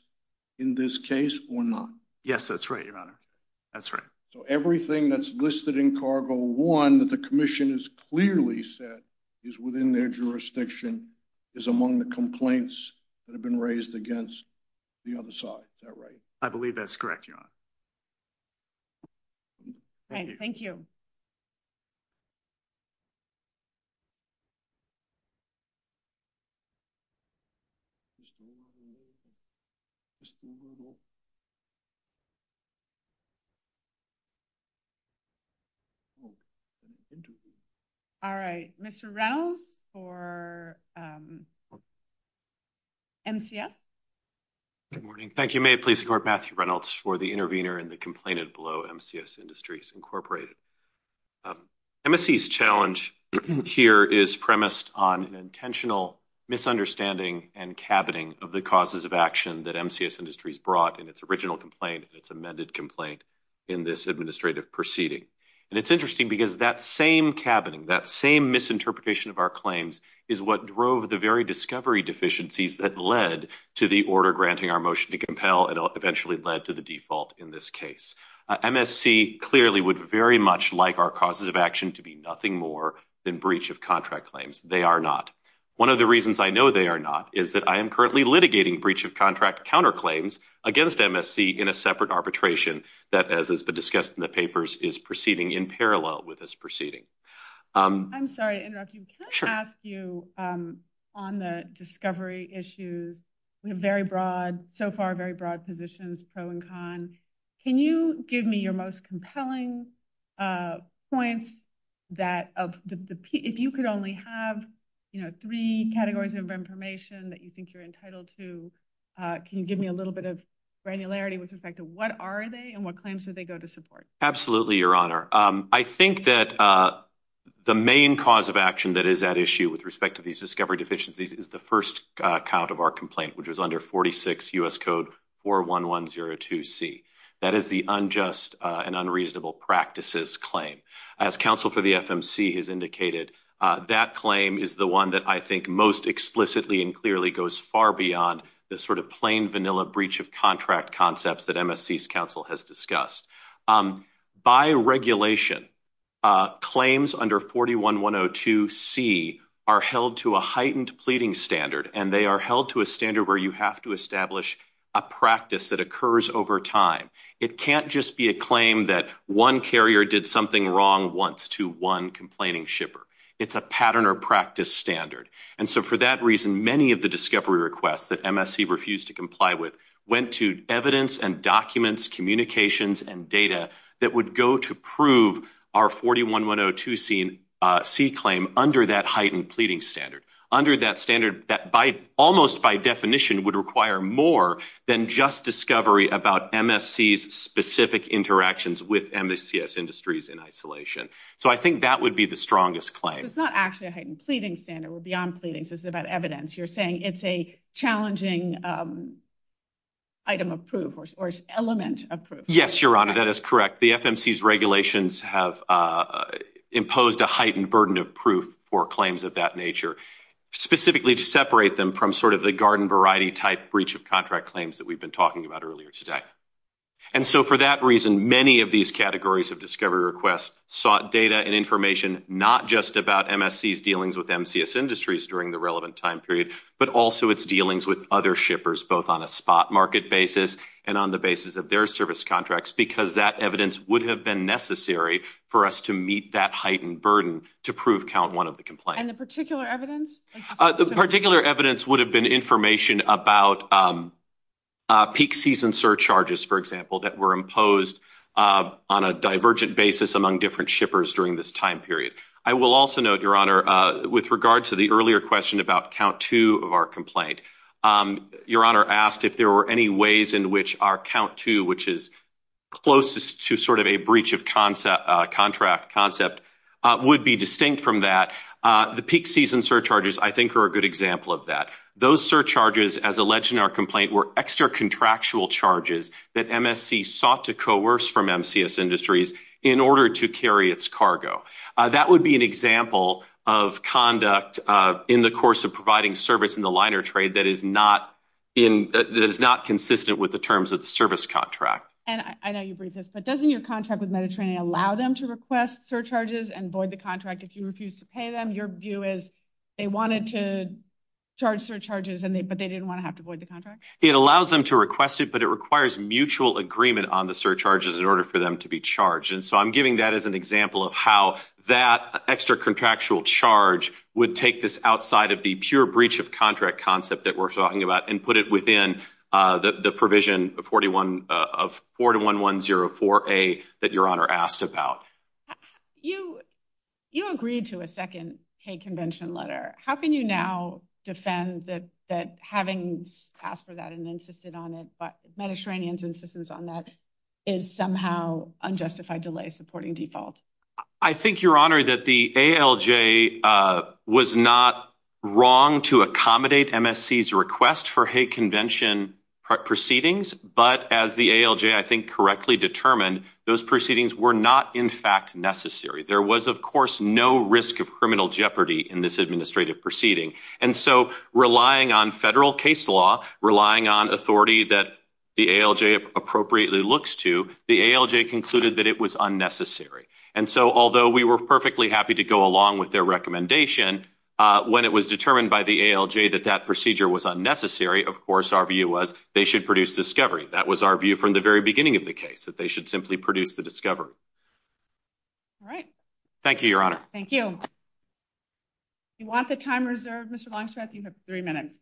in this case or not. Yes, that's right, Your Honor. That's right. So everything that's listed in cargo one that the commission has clearly said is within their jurisdiction is among the complaints that have been raised against the other side. Is that right? I believe that's correct, Your Honor. All right. Thank you. All right. Mr. Reynolds for MCS. Good morning. Thank you. May it please the court, Matthew Reynolds for the intervener in the complainant below MCS Industries, Incorporated. MSC's challenge here is premised on an intentional misunderstanding and cabining of the causes of action that MCS Industries brought in its original complaint and its amended complaint in this administrative proceeding. And it's interesting because that same cabining, that same misinterpretation of our claims, is what drove the very discovery deficiencies that led to the order granting our motion to compel and eventually led to the default in this case. MSC clearly would very much like our causes of action to be nothing more than breach of contract claims. They are not. One of the reasons I know they are not is that I am currently litigating breach of contract counterclaims against MSC in a separate arbitration that, as has been discussed in the papers, is proceeding in parallel with this proceeding. I'm sorry to interrupt you. Can I ask you, on the discovery issues, we have very broad, so far very broad positions, pro and con. Can you give me your most compelling point that, if you could only have, you know, three categories of information that you think you're entitled to, can you give me a little bit of granularity with respect to what are they and what claims do they go to support? Absolutely, Your Honor. I think that the main cause of action that is at issue with respect to these discovery deficiencies is the first count of our complaint, which was under 46 U.S. Code 41102C. That is the unjust and unreasonable practices claim. As counsel for the FMC has indicated, that claim is the one that I think most explicitly and clearly goes far beyond the sort of plain, vanilla breach of contract concepts that MSC's counsel has discussed. By regulation, claims under 41102C are held to a heightened pleading standard, and they are held to a standard where you have to establish a practice that occurs over time. It can't just be a claim that one carrier did something wrong once to one complaining shipper. It's a pattern or practice standard, and so for that reason, many of the discovery requests that MSC refused to comply with went to evidence and documents, communications, and data that would go to prove our 41102C claim under that heightened pleading standard, under that standard that almost by definition would require more than just discovery about MSC's specific interactions with MSCS industries in isolation. So I think that would be the strongest claim. It's not actually a heightened pleading standard. It would be on pleadings. It's about evidence. You're saying it's a challenging item of proof or element of proof. Yes, Your Honor, that is correct. The FMC's regulations have imposed a heightened burden of proof for claims of that nature, specifically to separate them from sort of the garden variety type breach of contract claims that we've been talking about earlier today, and so for that reason, many of these categories of discovery requests sought data and information not just about MSC's dealings with MCS industries during the relevant time period, but also its dealings with other shippers, both on a spot market basis and on the basis of their service contracts, because that evidence would have been necessary for us to meet that heightened burden to prove count one of the complaints. And the particular evidence? The particular evidence would have been information about peak season surcharges, for example, that were imposed on a divergent basis among different shippers during this time period. I will also note, with regard to the earlier question about count two of our complaint, Your Honor asked if there were any ways in which our count two, which is closest to sort of a breach of contract concept, would be distinct from that. The peak season surcharges, I think, are a good example of that. Those surcharges, as alleged in our complaint, were extra contractual charges that MSC sought to coerce from MCS industries in order to carry its cargo. That would be an example of conduct in the course of providing service in the liner trade that is not consistent with the terms of the service contract. And I know you breached this, but doesn't your contract with Mediterranean allow them to request surcharges and void the contract if you refuse to pay them? Your view is they wanted to charge surcharges, but they didn't want to have to void the contract? It allows them to request it, but it requires mutual agreement on the surcharges in order for them to be charged. And so I'm giving that as an example of how that extra contractual charge would take this outside of the pure breach of contract concept that we're talking about and put it within the provision of 41104A that Your Honor asked about. You agreed to a second Hague Convention letter. How can you now defend that having asked for that and insisted on it, but Mediterranean's insistence on that is somehow unjustified delay supporting default? I think, Your Honor, that the ALJ was not wrong to accommodate MSC's request for Hague Convention proceedings, but as the ALJ, I think, correctly determined, those proceedings were not, in fact, necessary. There was, of course, no risk of criminal jeopardy in this administrative proceeding. And so relying on federal case law, relying on authority that the ALJ appropriately looks to, the ALJ concluded that it was unnecessary. And so although we were perfectly happy to go along with their recommendation, when it was determined by the ALJ that that procedure was unnecessary, of course, our view was they should produce discovery. That was our view from the very of the case, that they should simply produce the discovery. All right. Thank you, Your Honor. Thank you. You want the time reserved, Mr. Longstreth? You have three minutes.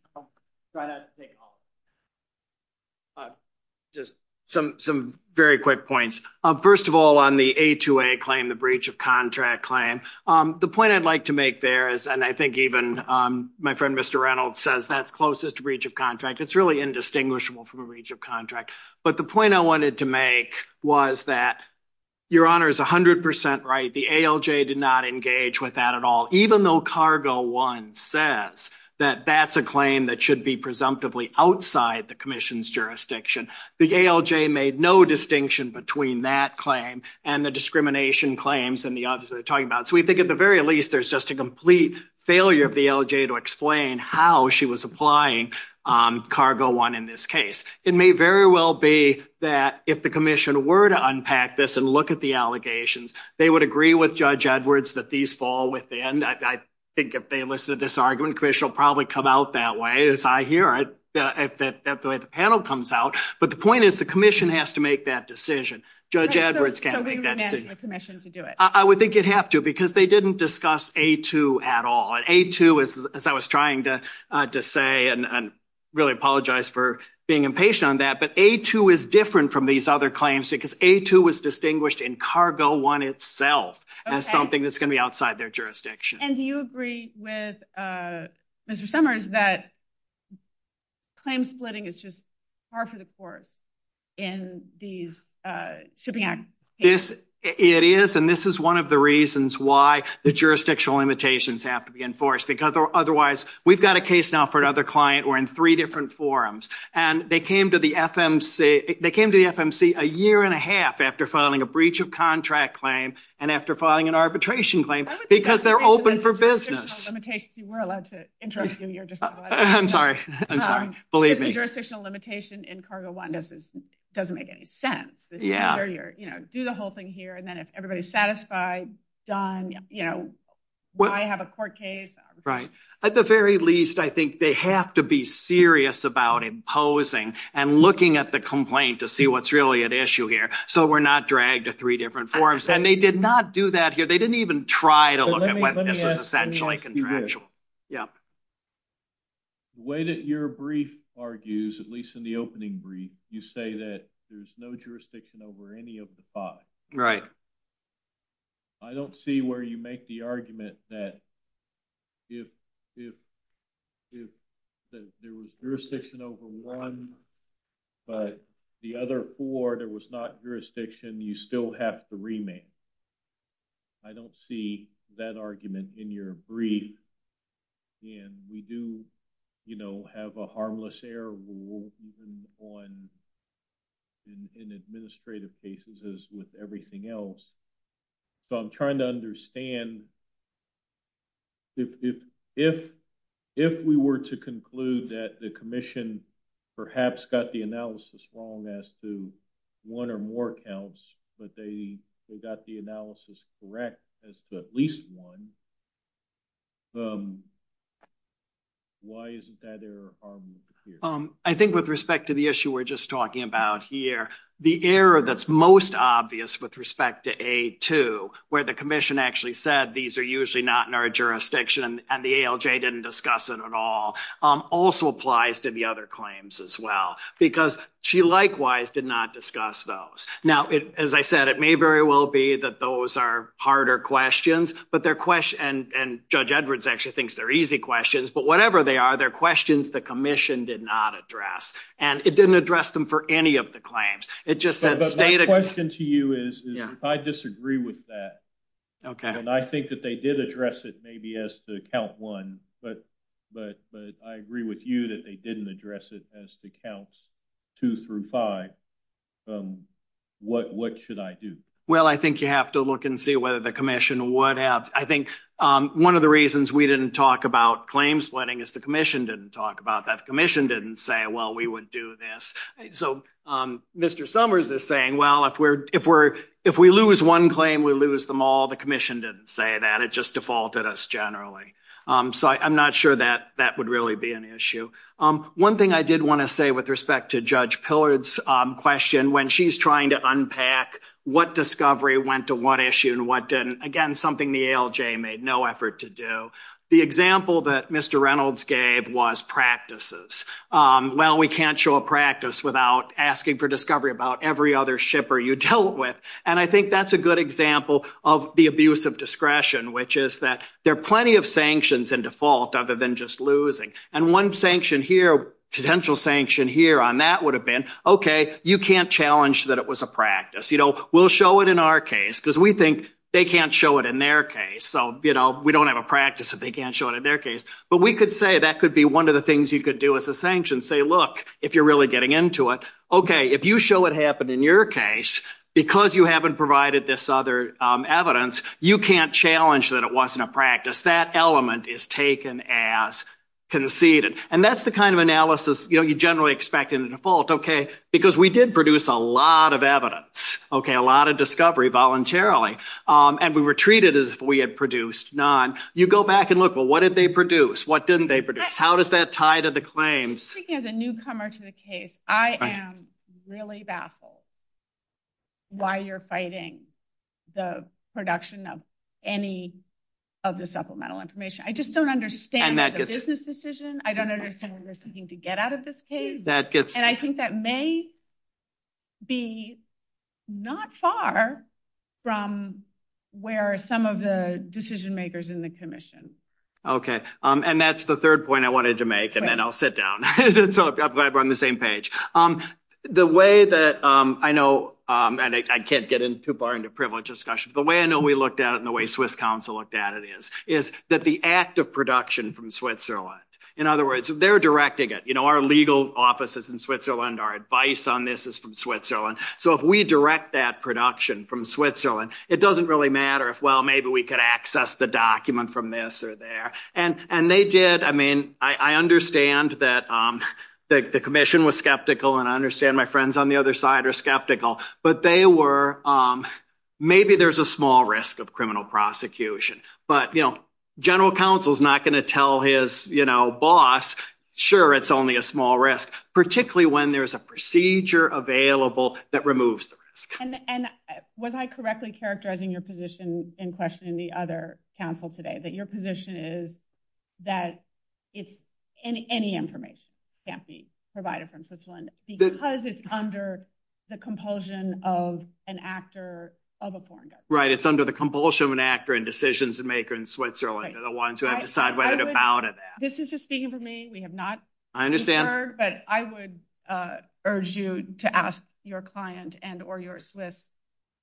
Just some very quick points. First of all, on the A2A claim, the breach of contract claim, the point I'd like to make there is, and I think even my friend, Mr. Reynolds, says that's closest to breach of contract. It's really indistinguishable from a breach of contract. But the point I wanted to make was that Your Honor is 100% right. The ALJ did not engage with that at all. Even though Cargo 1 says that that's a claim that should be presumptively outside the commission's jurisdiction, the ALJ made no distinction between that claim and the discrimination claims and the others that we're talking about. So we think at the very least, there's just a complete failure of the ALJ to explain how she was applying Cargo 1 in this case. It may very well be that if the commission were to unpack this and look at the allegations, they would agree with Judge Edwards that these fall within. I think if they listen to this argument, the commission will probably come out that way, as I hear it, that the way the panel comes out. But the point is, the commission has to make that decision. Judge Edwards can't make that decision. So we would mandate the commission to do it? I would think you'd have to, because they didn't discuss A2 at all. And A2, as I was trying to say, and I really apologize for being impatient on that, but A2 is different from these other claims because A2 was distinguished in Cargo 1 itself. That's something that's going to be outside their jurisdiction. And do you agree with Mr. Summers that claim splitting is just par for the course in these? It is. And this is one of the reasons why the jurisdictional limitations have to be enforced, because otherwise, we've got a case now for another client, we're in three different forums, and they came to the FMC a year and a half after filing a breach of contract claim, and after filing an arbitration claim, because they're open for business. I'm sorry. I'm sorry. Believe me. Jurisdictional limitation in Cargo 1 doesn't make any sense. Do the whole thing here, and then if everybody's satisfied, done, why have a court case? Right. At the very least, I think they have to be serious about imposing and looking at the complaint to see what's really at issue here, so we're not dragged to three different forums. And they did not do that here. They didn't even try to look at when this is essentially contractual. Yeah. The way that your brief argues, at least in the opening brief, you say that there's no jurisdiction over any of the five. Right. I don't see where you make the argument that if there was jurisdiction over one, but the other four, there was not jurisdiction, you still have to remand. I don't see that argument in your brief. And we do have a harmless error rule on in administrative cases as with everything else. So, I'm trying to understand if we were to conclude that the commission perhaps got the analysis wrong as to one or more accounts, but they got the analysis correct as to at least one, why isn't that error harmless here? I think with respect to the issue we're talking about here, the error that's most obvious with respect to A2, where the commission actually said these are usually not in our jurisdiction and the ALJ didn't discuss it at all, also applies to the other claims as well, because she likewise did not discuss those. Now, as I said, it may very well be that those are harder questions, and Judge Edwards actually thinks they're easy questions, but whatever they are, they're questions the commission did not address. And it didn't address them for any of the claims. It just says data. My question to you is, if I disagree with that, and I think that they did address it maybe as the count one, but I agree with you that they didn't address it as the counts two through five, what should I do? Well, I think you have to look and see whether the commission or what else. I think one of the reasons we didn't talk about claim splitting is the commission didn't talk about that. The commission didn't say, well, we would do this. So Mr. Summers is saying, well, if we lose one claim, we lose them all. The commission didn't say that. It just defaulted us generally. So I'm not sure that that would really be an issue. One thing I did want to say with respect to Judge Pillard's question, when she's trying to unpack what discovery went to what issue and what didn't, again, something the ALJ made no effort to do, the example that Mr. Reynolds gave was practices. Well, we can't show a practice without asking for discovery about every other shipper you dealt with. And I think that's a good example of the abuse of discretion, which is that there are plenty of sanctions in default other than just losing. And one sanction here, potential sanction here on that would have been, okay, you can't challenge that it was a practice. We'll show it in our case because we think they can't show it in their case. So we don't have a practice if they can't show it in their case. But we could say that could be one of the things you could do as a sanction, say, look, if you're really getting into it, okay, if you show it happened in your case, because you haven't provided this other evidence, you can't challenge that it wasn't a practice. That element is taken as conceded. And that's the kind of analysis you generally expect in the default, okay, because we did produce a lot of evidence, okay, a lot of discovery voluntarily. And we were treated as if we had produced none. You go back and look, well, what did they produce? What didn't they produce? How does that tie to the claims? Speaking as a newcomer to the case, I am really baffled why you're fighting the production of any of the supplemental information. I just don't understand the business decision. I don't understand if there's something to get out of this case. And I think that may be not far from where some of the decision makers in the commission. Okay. And that's the third point I wanted to make, and then I'll sit down. So I'm glad we're on the same page. The way that I know, and I can't get in too far into privilege discussion, but the way I know we looked at it and the way Swiss Council looked at it is, is that the act of production from Switzerland, in other words, they're directing it, you know, legal offices in Switzerland, our advice on this is from Switzerland. So if we direct that production from Switzerland, it doesn't really matter if, well, maybe we could access the document from this or there. And they did, I mean, I understand that the commission was skeptical, and I understand my friends on the other side are skeptical, but they were, maybe there's a small risk of criminal prosecution, but, you know, general counsel is not going to tell his, you know, small risks, particularly when there's a procedure available that removes the risk. And, and was I correctly characterizing your position in question in the other council today, that your position is that it's any, any information can't be provided from Switzerland because it's under the compulsion of an actor of a foreigner. Right. It's under the compulsion of an actor and decisions to make in Switzerland are the ones who have to decide whether to count it. This is just speaking for me. We have not. I understand. But I would urge you to ask your client and, or your Swiss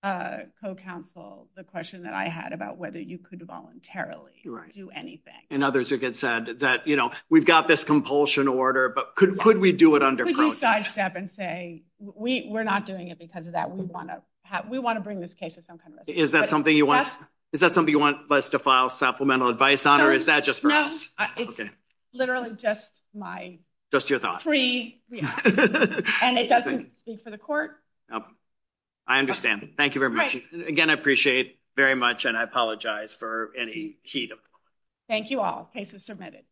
co-counsel, the question that I had about whether you could voluntarily do anything. And others have said that, you know, we've got this compulsion order, but could, could we do it under protection? Could you sidestep and say, we, we're not doing it because of that. We want to have, we want to bring this case to some kind of- Is that something you want, is that something you want us to file supplemental advice on, or is that just- It's literally just my- Just your thoughts. And it doesn't speak for the court. I understand. Thank you very much. Again, I appreciate it very much. And I apologize for any heat. Thank you all. Case is submitted.